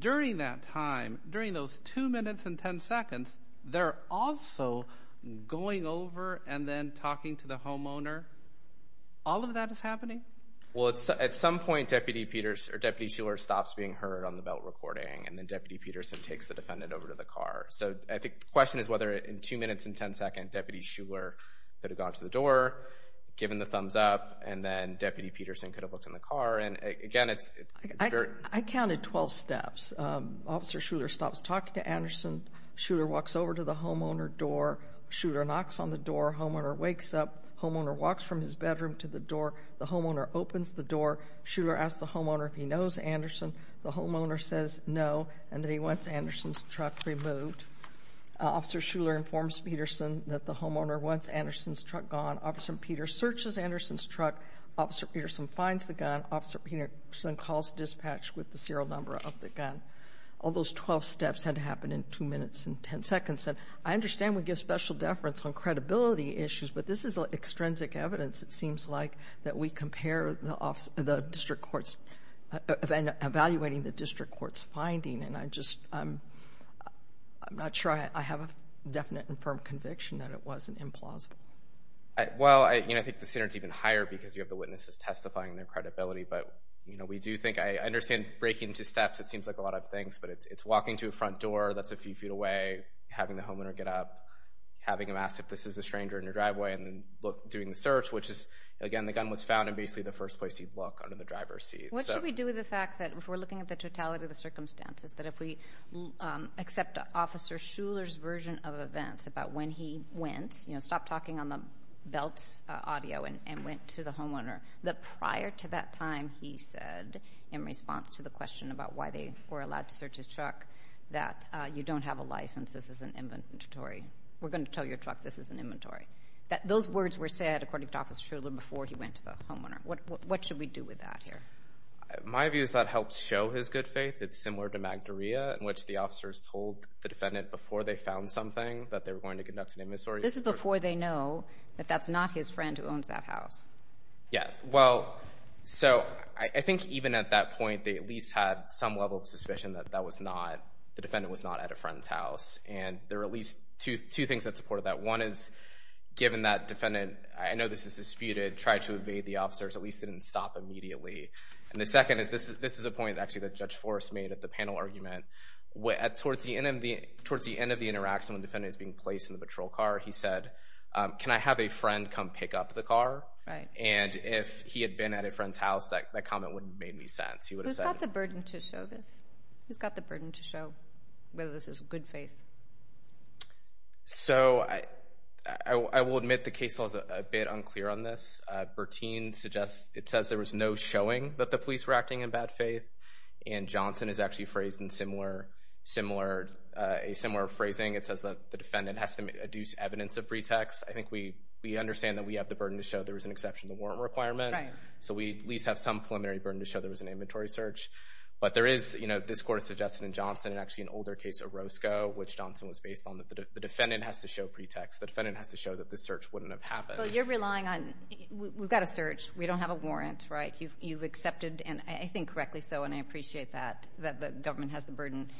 during that time, during those 2 minutes and 10 seconds, they're also going over and then talking to the homeowner. All of that is happening? Well, at some point, Deputy Peters, or Deputy Shuler stops being heard on the belt recording, and then Deputy Peterson takes the defendant over to the car. So I think the question is whether in 2 minutes and 10 seconds, Deputy Shuler could have gone to the door, given the thumbs up, and then Deputy Peterson could have looked in the car. And again, it's very— I counted 12 steps. Officer Shuler stops talking to Anderson. Shuler walks over to the homeowner door. Shuler knocks on the door. Homeowner wakes up. Homeowner walks from his bedroom to the door. The homeowner opens the door. Shuler asks the homeowner if he knows Anderson. The homeowner says no, and then he wants Anderson's truck removed. Officer Shuler informs Peterson that the homeowner wants Anderson's truck gone. Officer Peters searches Anderson's truck. Officer Peterson finds the gun. Officer Peterson calls dispatch with the serial number of the gun. All those 12 steps had to happen in 2 minutes and 10 seconds. And I understand we give special deference on credibility issues, but this is extrinsic evidence, it seems like, that we compare the district court's— evaluating the district court's finding, and I just— I'm not sure I have a definite and firm conviction that it wasn't implausible. Well, you know, I think the standard's even higher because you have the witnesses testifying and their credibility, but, you know, we do think— I understand breaking into steps, it seems like a lot of things, but it's walking to a front door that's a few feet away, having the homeowner get up, having him ask if this is a stranger in your driveway, and then doing the search, which is, again, the gun was found in basically the first place you'd look under the driver's seat. What do we do with the fact that if we're looking at the totality of the circumstances, that if we accept Officer Shuler's version of events about when he went, you know, stopped talking on the belt audio and went to the homeowner, that prior to that time he said, in response to the question about why they were allowed to search his truck, that you don't have a license, this is an inventory. We're going to tell your truck this is an inventory. Those words were said, according to Officer Shuler, before he went to the homeowner. What should we do with that here? My view is that helps show his good faith. It's similar to Magdaria, in which the officers told the defendant before they found something that they were going to conduct an immiseration. This is before they know that that's not his friend who owns that house. Yes. Well, so I think even at that point they at least had some level of suspicion that that was not, the defendant was not at a friend's house. And there are at least two things that support that. One is, given that defendant, I know this is disputed, tried to evade the officers, at least didn't stop immediately. And the second is, this is a point actually that Judge Forrest made at the panel argument, towards the end of the interaction when the defendant is being placed in the patrol car, he said, can I have a friend come pick up the car? Right. And if he had been at a friend's house, that comment wouldn't have made any sense. Who's got the burden to show this? Who's got the burden to show whether this is good faith? So, I will admit the case law is a bit unclear on this. Bertine suggests, it says there was no showing that the police were acting in bad faith. And Johnson is actually phrased in similar phrasing. It says that the defendant has to adduce evidence of pretext. I think we understand that we have the burden to show there was an exception to warrant requirement. Right. So, we at least have some preliminary burden to show there was an inventory search. But there is, you know, this court has suggested in Johnson, and actually an older case of Roscoe, which Johnson was based on, that the defendant has to show pretext. The defendant has to show that the search wouldn't have happened. Well, you're relying on, we've got a search. We don't have a warrant, right? You've accepted, and I think correctly so, and I appreciate that, that the government has the burden.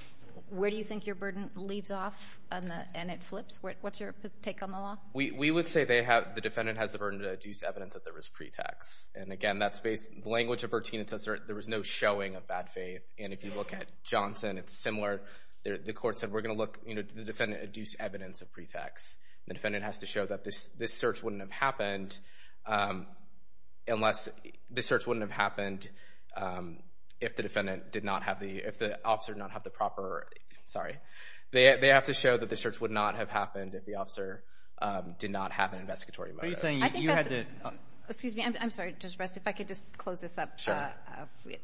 Where do you think your burden leaves off and it flips? What's your take on the law? We would say they have, the defendant has the burden to adduce evidence that there was pretext. And, again, that's based, the language of Bertine, it says there was no showing of bad faith. And if you look at Johnson, it's similar. The court said we're going to look, you know, did the defendant adduce evidence of pretext? The defendant has to show that this search wouldn't have happened unless, this search wouldn't have happened if the defendant did not have the, if the officer did not have the proper, sorry, they have to show that the search would not have happened if the officer did not have an investigatory motive. What are you saying? You had to. Excuse me. I'm sorry. Just rest. If I could just close this up. Sure.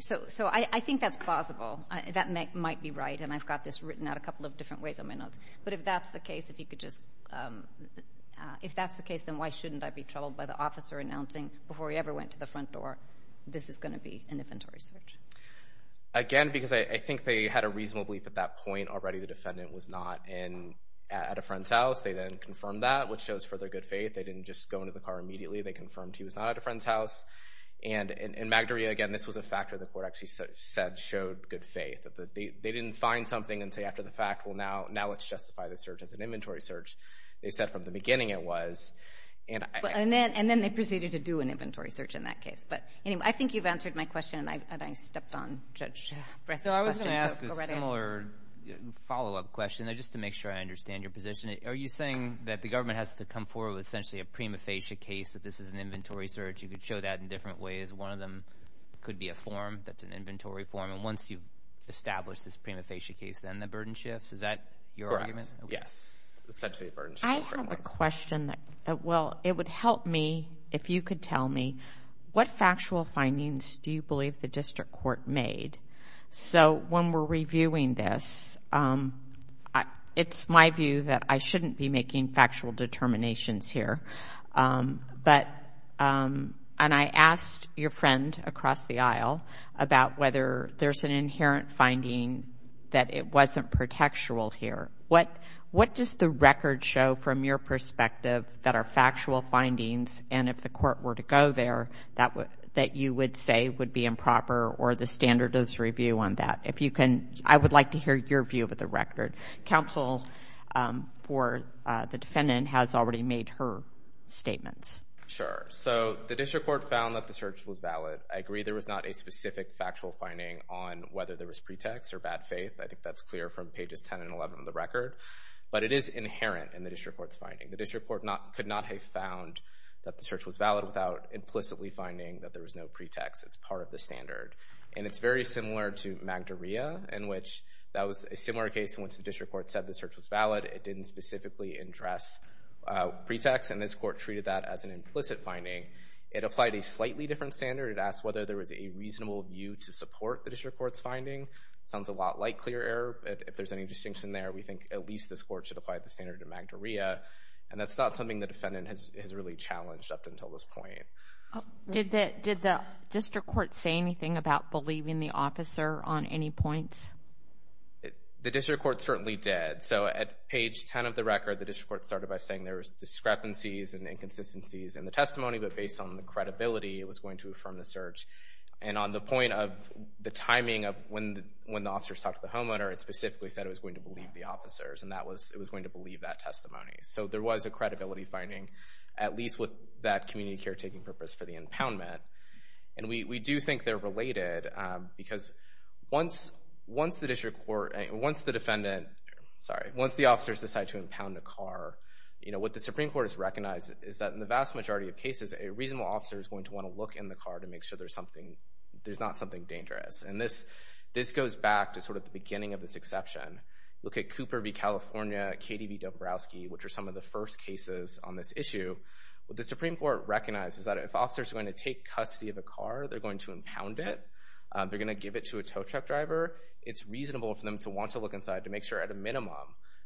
So I think that's plausible. That might be right, and I've got this written out a couple of different ways on my notes. But if that's the case, if you could just, if that's the case, then why shouldn't I be troubled by the officer announcing before he ever went to the front door, this is going to be an inventory search? Again, because I think they had a reasonable belief at that point already the defendant was not at a friend's house. They then confirmed that, which shows further good faith. They didn't just go into the car immediately. They confirmed he was not at a friend's house. And in Magdaria, again, this was a factor the court actually said showed good faith. They didn't find something and say after the fact, well, now let's justify this search as an inventory search. They said from the beginning it was. And then they proceeded to do an inventory search in that case. But anyway, I think you've answered my question, and I stepped on Judge Bress's question. So I was going to ask a similar follow-up question, just to make sure I understand your position. Are you saying that the government has to come forward with essentially a prima facie case that this is an inventory search? You could show that in different ways. One of them could be a form that's an inventory form. And once you've established this prima facie case, then the burden shifts? Is that your argument? Correct, yes. Essentially the burden shifts. I just have a question that, well, it would help me if you could tell me, what factual findings do you believe the district court made? So when we're reviewing this, it's my view that I shouldn't be making factual determinations here. And I asked your friend across the aisle about whether there's an inherent finding that it wasn't protectural here. What does the record show from your perspective that are factual findings, and if the court were to go there, that you would say would be improper or the standard is review on that? I would like to hear your view of the record. Counsel for the defendant has already made her statements. Sure. So the district court found that the search was valid. I agree there was not a specific factual finding on whether there was pretext or bad faith. I think that's clear from pages 10 and 11 of the record. But it is inherent in the district court's finding. The district court could not have found that the search was valid without implicitly finding that there was no pretext. It's part of the standard. And it's very similar to Magdaria, in which that was a similar case in which the district court said the search was valid. It didn't specifically address pretext, and this court treated that as an implicit finding. It applied a slightly different standard. It sounds a lot like clear error. If there's any distinction there, we think at least this court should apply the standard to Magdaria. And that's not something the defendant has really challenged up until this point. Did the district court say anything about believing the officer on any points? The district court certainly did. So at page 10 of the record, the district court started by saying there was discrepancies and inconsistencies in the testimony, but based on the credibility, it was going to affirm the search. And on the point of the timing of when the officers talked to the homeowner, it specifically said it was going to believe the officers, and it was going to believe that testimony. So there was a credibility finding, at least with that community care taking purpose for the impoundment. And we do think they're related because once the district court—once the defendant—sorry, once the officers decide to impound a car, what the Supreme Court has recognized is that in the vast majority of cases, a reasonable officer is going to want to look in the car to make sure there's not something dangerous. And this goes back to sort of the beginning of this exception. Look at Cooper v. California, Katie v. Dombrowski, which are some of the first cases on this issue. What the Supreme Court recognizes is that if officers are going to take custody of a car, they're going to impound it. They're going to give it to a tow truck driver. It's reasonable for them to want to look inside to make sure at a minimum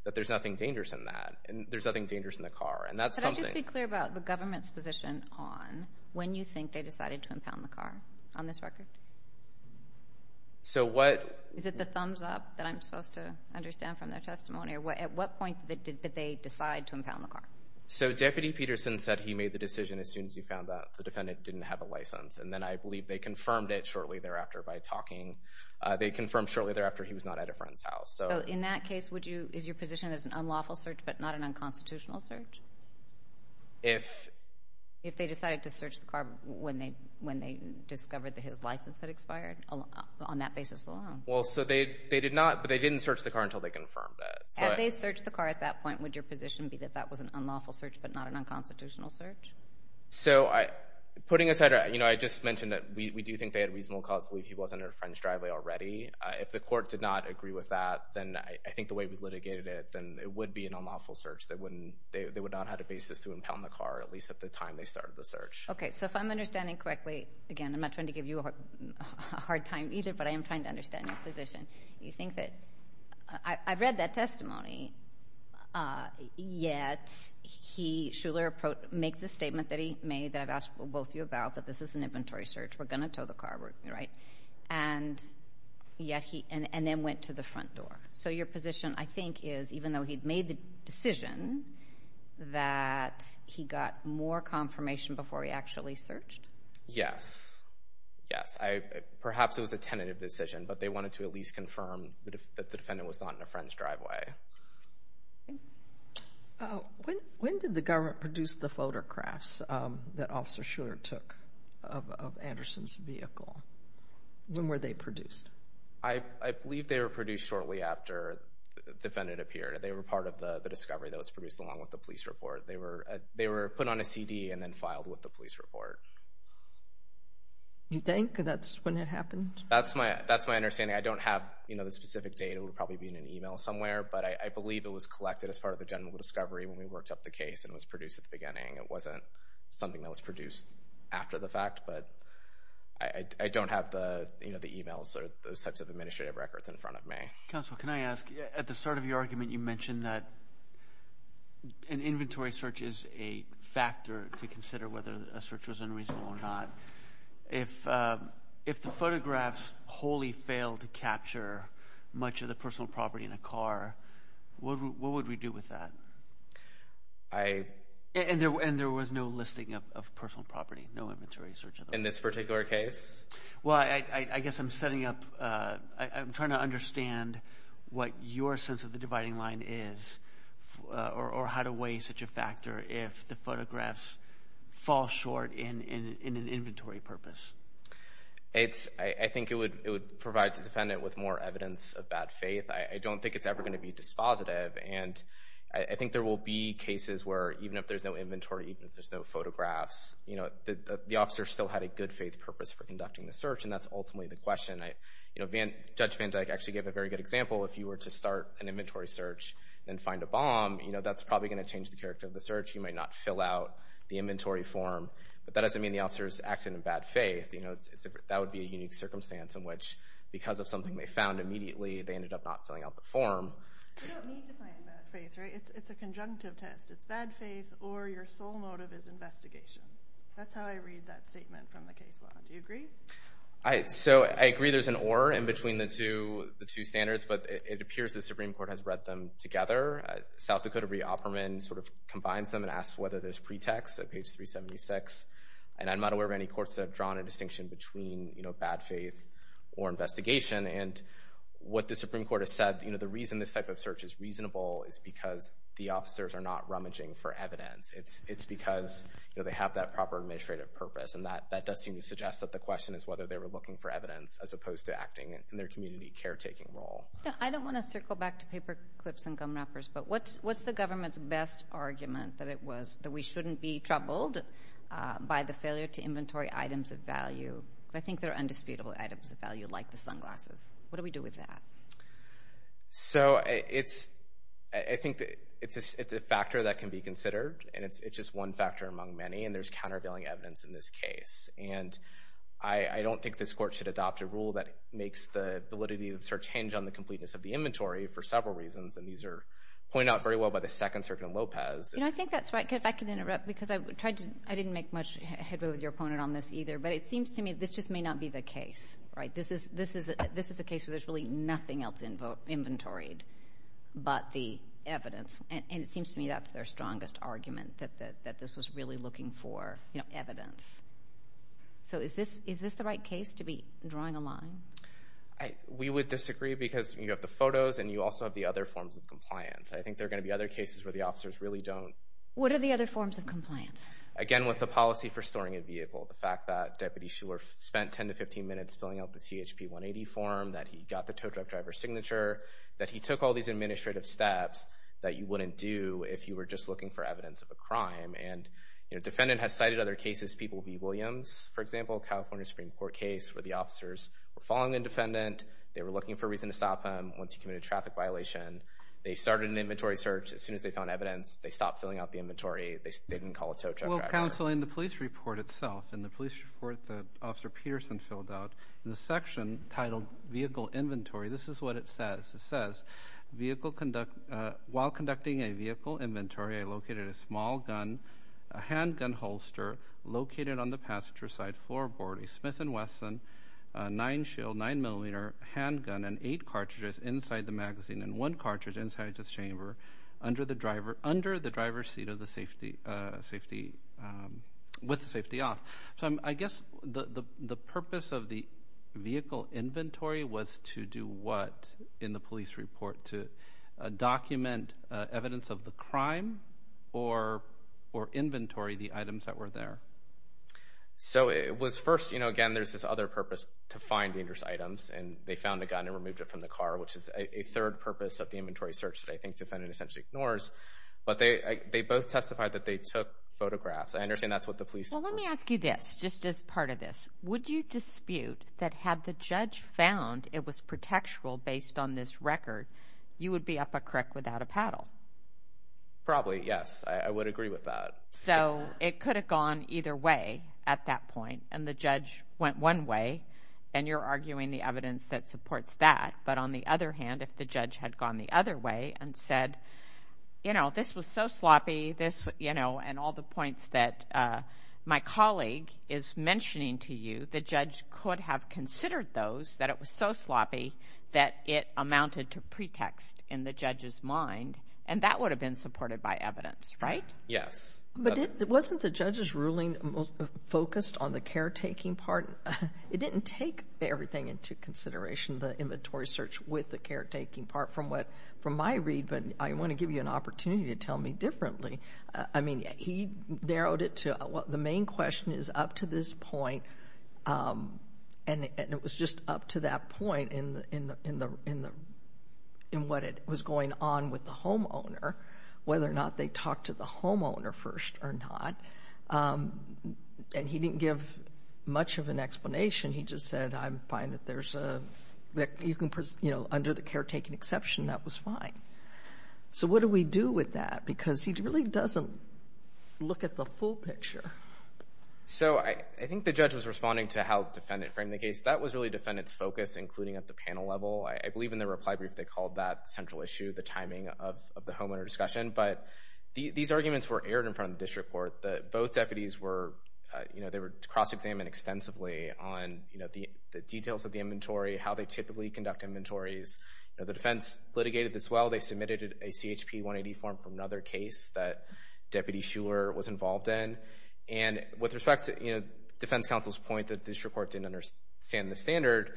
that there's nothing dangerous in that and there's nothing dangerous in the car. And that's something— Could I just be clear about the government's position on when you think they decided to impound the car on this record? So what— Is it the thumbs up that I'm supposed to understand from their testimony? At what point did they decide to impound the car? So Deputy Peterson said he made the decision as soon as he found out the defendant didn't have a license. And then I believe they confirmed it shortly thereafter by talking. They confirmed shortly thereafter he was not at a friend's house. So in that case, would you—is your position that it's an unlawful search but not an unconstitutional search? If— If they decided to search the car when they discovered that his license had expired on that basis alone. Well, so they did not—but they didn't search the car until they confirmed it. Had they searched the car at that point, would your position be that that was an unlawful search but not an unconstitutional search? So putting aside—you know, I just mentioned that we do think they had reasonable cause to believe he wasn't at a friend's driveway already. If the court did not agree with that, then I think the way we litigated it, then it would be an unlawful search. They wouldn't—they would not have had a basis to impound the car, at least at the time they started the search. Okay. So if I'm understanding correctly—again, I'm not trying to give you a hard time either, but I am trying to understand your position. You think that—I've read that testimony, yet he—Shuler makes a statement that he made that I've asked both of you about, that this is an inventory search. We're going to tow the car, right? And yet he—and then went to the front door. So your position, I think, is even though he'd made the decision, that he got more confirmation before he actually searched? Yes. Yes. Perhaps it was a tentative decision, but they wanted to at least confirm that the defendant was not in a friend's driveway. Okay. When did the government produce the photographs that Officer Shuler took of Anderson's vehicle? When were they produced? I believe they were produced shortly after the defendant appeared. They were part of the discovery that was produced along with the police report. They were put on a CD and then filed with the police report. You think that's when it happened? That's my understanding. I don't have the specific date. It would probably be in an email somewhere. But I believe it was collected as part of the general discovery when we worked up the case and was produced at the beginning. It wasn't something that was produced after the fact. But I don't have the emails or those types of administrative records in front of me. Counsel, can I ask? At the start of your argument, you mentioned that an inventory search is a factor to consider whether a search was unreasonable or not. If the photographs wholly failed to capture much of the personal property in a car, what would we do with that? And there was no listing of personal property, no inventory search at all. In this particular case? Well, I guess I'm setting up – I'm trying to understand what your sense of the dividing line is or how to weigh such a factor if the photographs fall short in an inventory purpose. I think it would provide the defendant with more evidence of bad faith. I don't think it's ever going to be dispositive. I think there will be cases where even if there's no inventory, even if there's no photographs, the officer still had a good faith purpose for conducting the search, and that's ultimately the question. Judge Van Dyke actually gave a very good example. If you were to start an inventory search and find a bomb, that's probably going to change the character of the search. You might not fill out the inventory form, but that doesn't mean the officer's acting in bad faith. That would be a unique circumstance in which, because of something they found immediately, they ended up not filling out the form. You don't need to find bad faith, right? It's a conjunctive test. It's bad faith or your sole motive is investigation. That's how I read that statement from the case law. Do you agree? So, I agree there's an or in between the two standards, but it appears the Supreme Court has read them together. South Dakota reofferment sort of combines them and asks whether there's pretext at page 376. And I'm not aware of any courts that have drawn a distinction between bad faith or investigation. And what the Supreme Court has said, the reason this type of search is reasonable is because the officers are not rummaging for evidence. It's because they have that proper administrative purpose. And that does seem to suggest that the question is whether they were looking for evidence as opposed to acting in their community caretaking role. I don't want to circle back to paper clips and gum wrappers, but what's the government's best argument that it was that we shouldn't be troubled by the failure to inventory items of value? I think they're undisputable items of value, like the sunglasses. What do we do with that? So, I think it's a factor that can be considered. And it's just one factor among many. And there's countervailing evidence in this case. And I don't think this court should adopt a rule that makes the validity of the search hinge on the completeness of the inventory for several reasons. And these are pointed out very well by the Second Circuit in Lopez. You know, I think that's right. If I can interrupt, because I didn't make much headway with your opponent on this either. But it seems to me this just may not be the case, right? This is a case where there's really nothing else inventoried but the evidence. And it seems to me that's their strongest argument, that this was really looking for evidence. So, is this the right case to be drawing a line? We would disagree because you have the photos and you also have the other forms of compliance. I think there are going to be other cases where the officers really don't. What are the other forms of compliance? Again, with the policy for storing a vehicle, the fact that Deputy Shuler spent 10 to 15 minutes filling out the CHP 180 form, that he got the tow truck driver's signature, that he took all these administrative steps that you wouldn't do if you were just looking for evidence of a crime. And, you know, defendant has cited other cases. People will be Williams, for example, California Supreme Court case where the officers were following the defendant. They were looking for a reason to stop him once he committed a traffic violation. They started an inventory search. Well, Counsel, in the police report itself, in the police report that Officer Peterson filled out, in the section titled Vehicle Inventory, this is what it says. It says, while conducting a vehicle inventory, I located a small gun, a handgun holster located on the passenger side floorboard, a Smith & Wesson, a 9-shill, 9-millimeter handgun and 8 cartridges inside the magazine and one cartridge inside this chamber under the driver's seat with the safety off. So I guess the purpose of the vehicle inventory was to do what in the police report? To document evidence of the crime or inventory the items that were there? So it was first, you know, again, there's this other purpose to find dangerous items, and they found a gun and removed it from the car, which is a third purpose of the inventory search that I think the defendant essentially ignores. But they both testified that they took photographs. I understand that's what the police report. Well, let me ask you this, just as part of this. Would you dispute that had the judge found it was protectural based on this record, you would be up a crick without a paddle? Probably, yes. I would agree with that. So it could have gone either way at that point, and the judge went one way, and you're arguing the evidence that supports that. But on the other hand, if the judge had gone the other way and said, you know, this was so sloppy, and all the points that my colleague is mentioning to you, the judge could have considered those, that it was so sloppy that it amounted to pretext in the judge's mind, and that would have been supported by evidence, right? Yes. But wasn't the judge's ruling focused on the caretaking part? It didn't take everything into consideration, the inventory search with the caretaking part, from my read. But I want to give you an opportunity to tell me differently. I mean, he narrowed it to the main question is up to this point, and it was just up to that point in what was going on with the homeowner, whether or not they talked to the homeowner first or not. And he didn't give much of an explanation. He just said, I'm fine that there's a, you know, under the caretaking exception, that was fine. So what do we do with that? Because he really doesn't look at the full picture. So I think the judge was responding to how the defendant framed the case. That was really defendant's focus, including at the panel level. I believe in the reply brief they called that central issue, the timing of the homeowner discussion. But these arguments were aired in front of the district court that both deputies were, you know, they were cross-examined extensively on, you know, the details of the inventory, how they typically conduct inventories. You know, the defense litigated this well. They submitted a CHP 180 form for another case that Deputy Shuler was involved in. And with respect to, you know, defense counsel's point that the district court didn't understand the standard,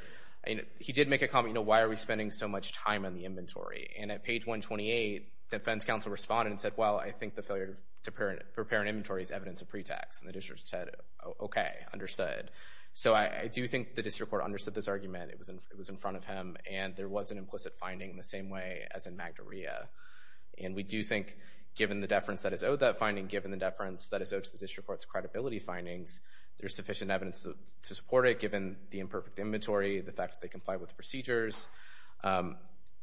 he did make a comment, you know, why are we spending so much time on the inventory? And at page 128, defense counsel responded and said, well, I think the failure to prepare an inventory is evidence of pretext. And the district said, okay, understood. So I do think the district court understood this argument. It was in front of him, and there was an implicit finding in the same way as in Magdaria. And we do think given the deference that is owed that finding, given the deference that is owed to the district court's credibility findings, there's sufficient evidence to support it given the imperfect inventory, the fact that they complied with the procedures,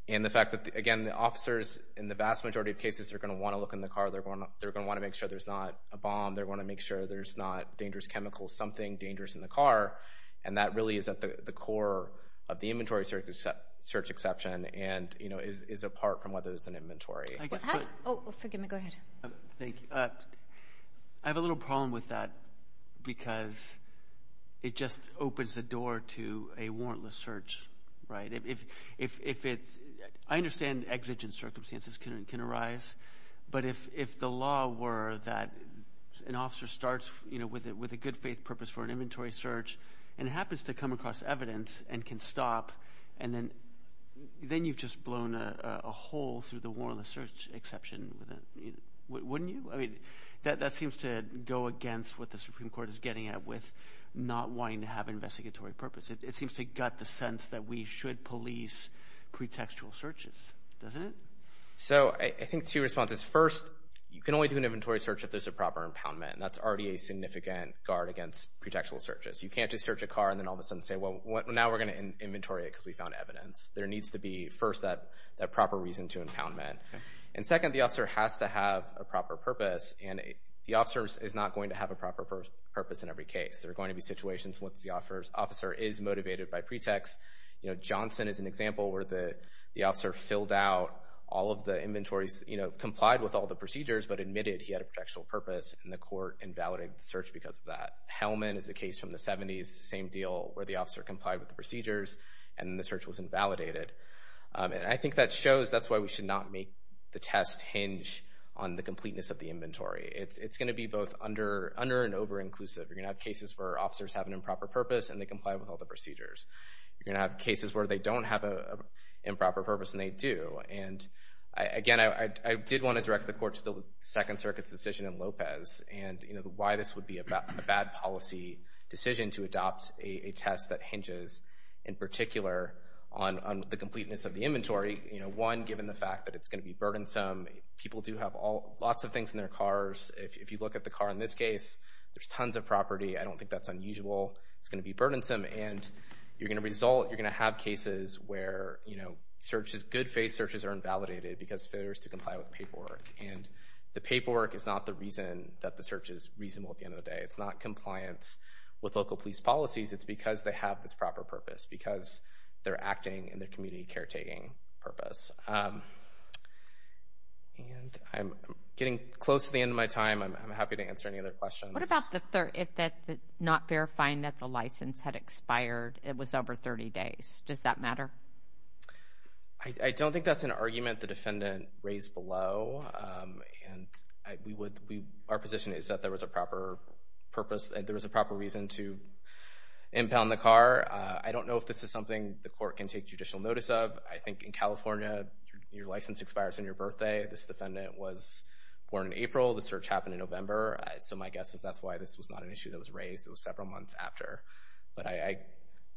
and the fact that, again, the officers in the vast majority of cases are going to want to look in the car. They're going to want to make sure there's not a bomb. They're going to want to make sure there's not dangerous chemicals, something dangerous in the car. And that really is at the core of the inventory search exception and, you know, is apart from whether there's an inventory. Oh, forgive me. Go ahead. Thank you. I have a little problem with that because it just opens the door to a warrantless search, right? If it's – I understand exigent circumstances can arise, but if the law were that an officer starts, you know, with a good faith purpose for an inventory search and happens to come across evidence and can stop, and then you've just blown a hole through the warrantless search exception, wouldn't you? I mean, that seems to go against what the Supreme Court is getting at with not wanting to have investigatory purpose. It seems to gut the sense that we should police pretextual searches, doesn't it? So I think two responses. First, you can only do an inventory search if there's a proper impoundment, and that's already a significant guard against pretextual searches. You can't just search a car and then all of a sudden say, well, now we're going to inventory it because we found evidence. There needs to be, first, that proper reason to impoundment. And second, the officer has to have a proper purpose, and the officer is not going to have a proper purpose in every case. There are going to be situations once the officer is motivated by pretext. You know, Johnson is an example where the officer filled out all of the inventories, you know, complied with all the procedures but admitted he had a pretextual purpose, and the court invalidated the search because of that. Hellman is a case from the 70s, same deal, where the officer complied with the procedures and the search was invalidated. And I think that shows that's why we should not make the test hinge on the completeness of the inventory. It's going to be both under and over-inclusive. You're going to have cases where officers have an improper purpose and they comply with all the procedures. You're going to have cases where they don't have an improper purpose and they do. And, again, I did want to direct the court to the Second Circuit's decision in Lopez and, you know, why this would be a bad policy decision to adopt a test that hinges, in particular, on the completeness of the inventory. You know, one, given the fact that it's going to be burdensome. People do have lots of things in their cars. If you look at the car in this case, there's tons of property. I don't think that's unusual. It's going to be burdensome. And you're going to result, you're going to have cases where, you know, searches, good faith searches are invalidated because failures to comply with paperwork. And the paperwork is not the reason that the search is reasonable at the end of the day. It's not compliance with local police policies. It's because they have this proper purpose, because they're acting in their community caretaking purpose. And I'm getting close to the end of my time. I'm happy to answer any other questions. What about if not verifying that the license had expired, it was over 30 days? Does that matter? I don't think that's an argument the defendant raised below. And our position is that there was a proper purpose and there was a proper reason to impound the car. I don't know if this is something the court can take judicial notice of. I think in California, your license expires on your birthday. This defendant was born in April. The search happened in November. So my guess is that's why this was not an issue that was raised. It was several months after. But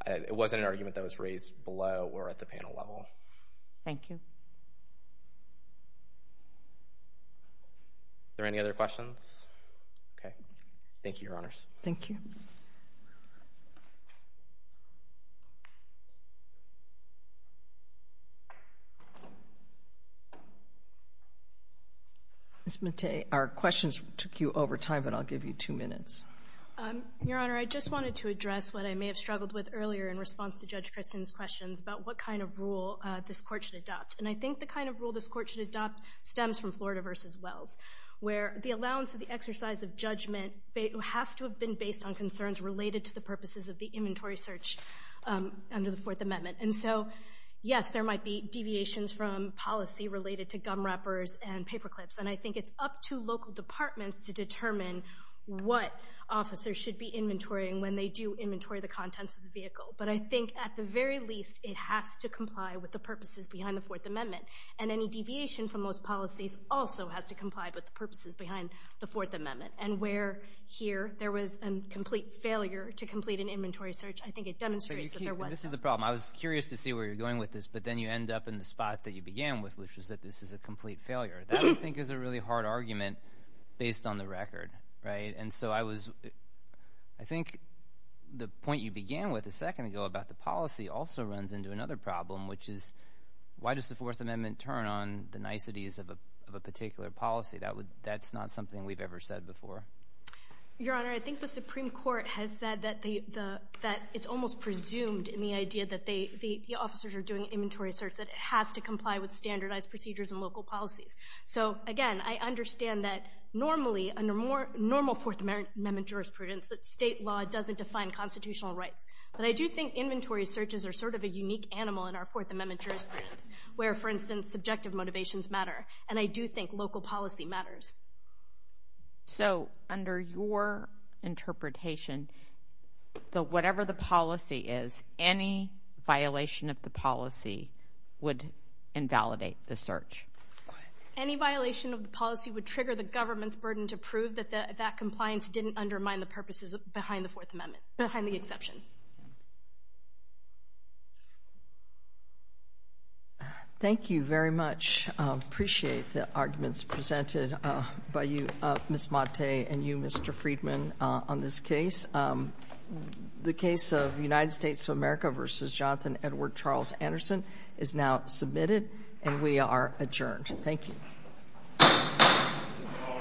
it wasn't an argument that was raised below or at the panel level. Thank you. Are there any other questions? Okay. Thank you, Your Honors. Thank you. Ms. Mattei, our questions took you over time, but I'll give you two minutes. Your Honor, I just wanted to address what I may have struggled with earlier in response to Judge Christin's questions about what kind of rule this Court should adopt. And I think the kind of rule this Court should adopt stems from Florida v. Wells, where the allowance of the exercise of judgment has to have been based on concerns related to the purposes of the inventory search under the Fourth Amendment. And so, yes, there might be deviations from policy related to gum wrappers and paper clips. And I think it's up to local departments to determine what officers should be inventorying when they do inventory the contents of the vehicle. But I think, at the very least, it has to comply with the purposes behind the Fourth Amendment. And any deviation from those policies also has to comply with the purposes behind the Fourth Amendment. And where here there was a complete failure to complete an inventory search, I think it demonstrates that there was some. This is the problem. I was curious to see where you're going with this, but then you end up in the spot that you began with, which is that this is a complete failure. That, I think, is a really hard argument based on the record, right? And so I think the point you began with a second ago about the policy also runs into another problem, which is why does the Fourth Amendment turn on the niceties of a particular policy? That's not something we've ever said before. Your Honor, I think the Supreme Court has said that it's almost presumed in the idea that the officers are doing So, again, I understand that normally, under normal Fourth Amendment jurisprudence, that state law doesn't define constitutional rights. But I do think inventory searches are sort of a unique animal in our Fourth Amendment jurisprudence, where, for instance, subjective motivations matter. And I do think local policy matters. So, under your interpretation, whatever the policy is, any violation of the policy would invalidate the search. Any violation of the policy would trigger the government's burden to prove that that compliance didn't undermine the purposes behind the Fourth Amendment, behind the exception. Thank you very much. I appreciate the arguments presented by you, Ms. Motte, and you, Mr. Friedman, on this case. The case of United States of America v. Jonathan Edward Charles Anderson is now submitted, and we are adjourned. Thank you.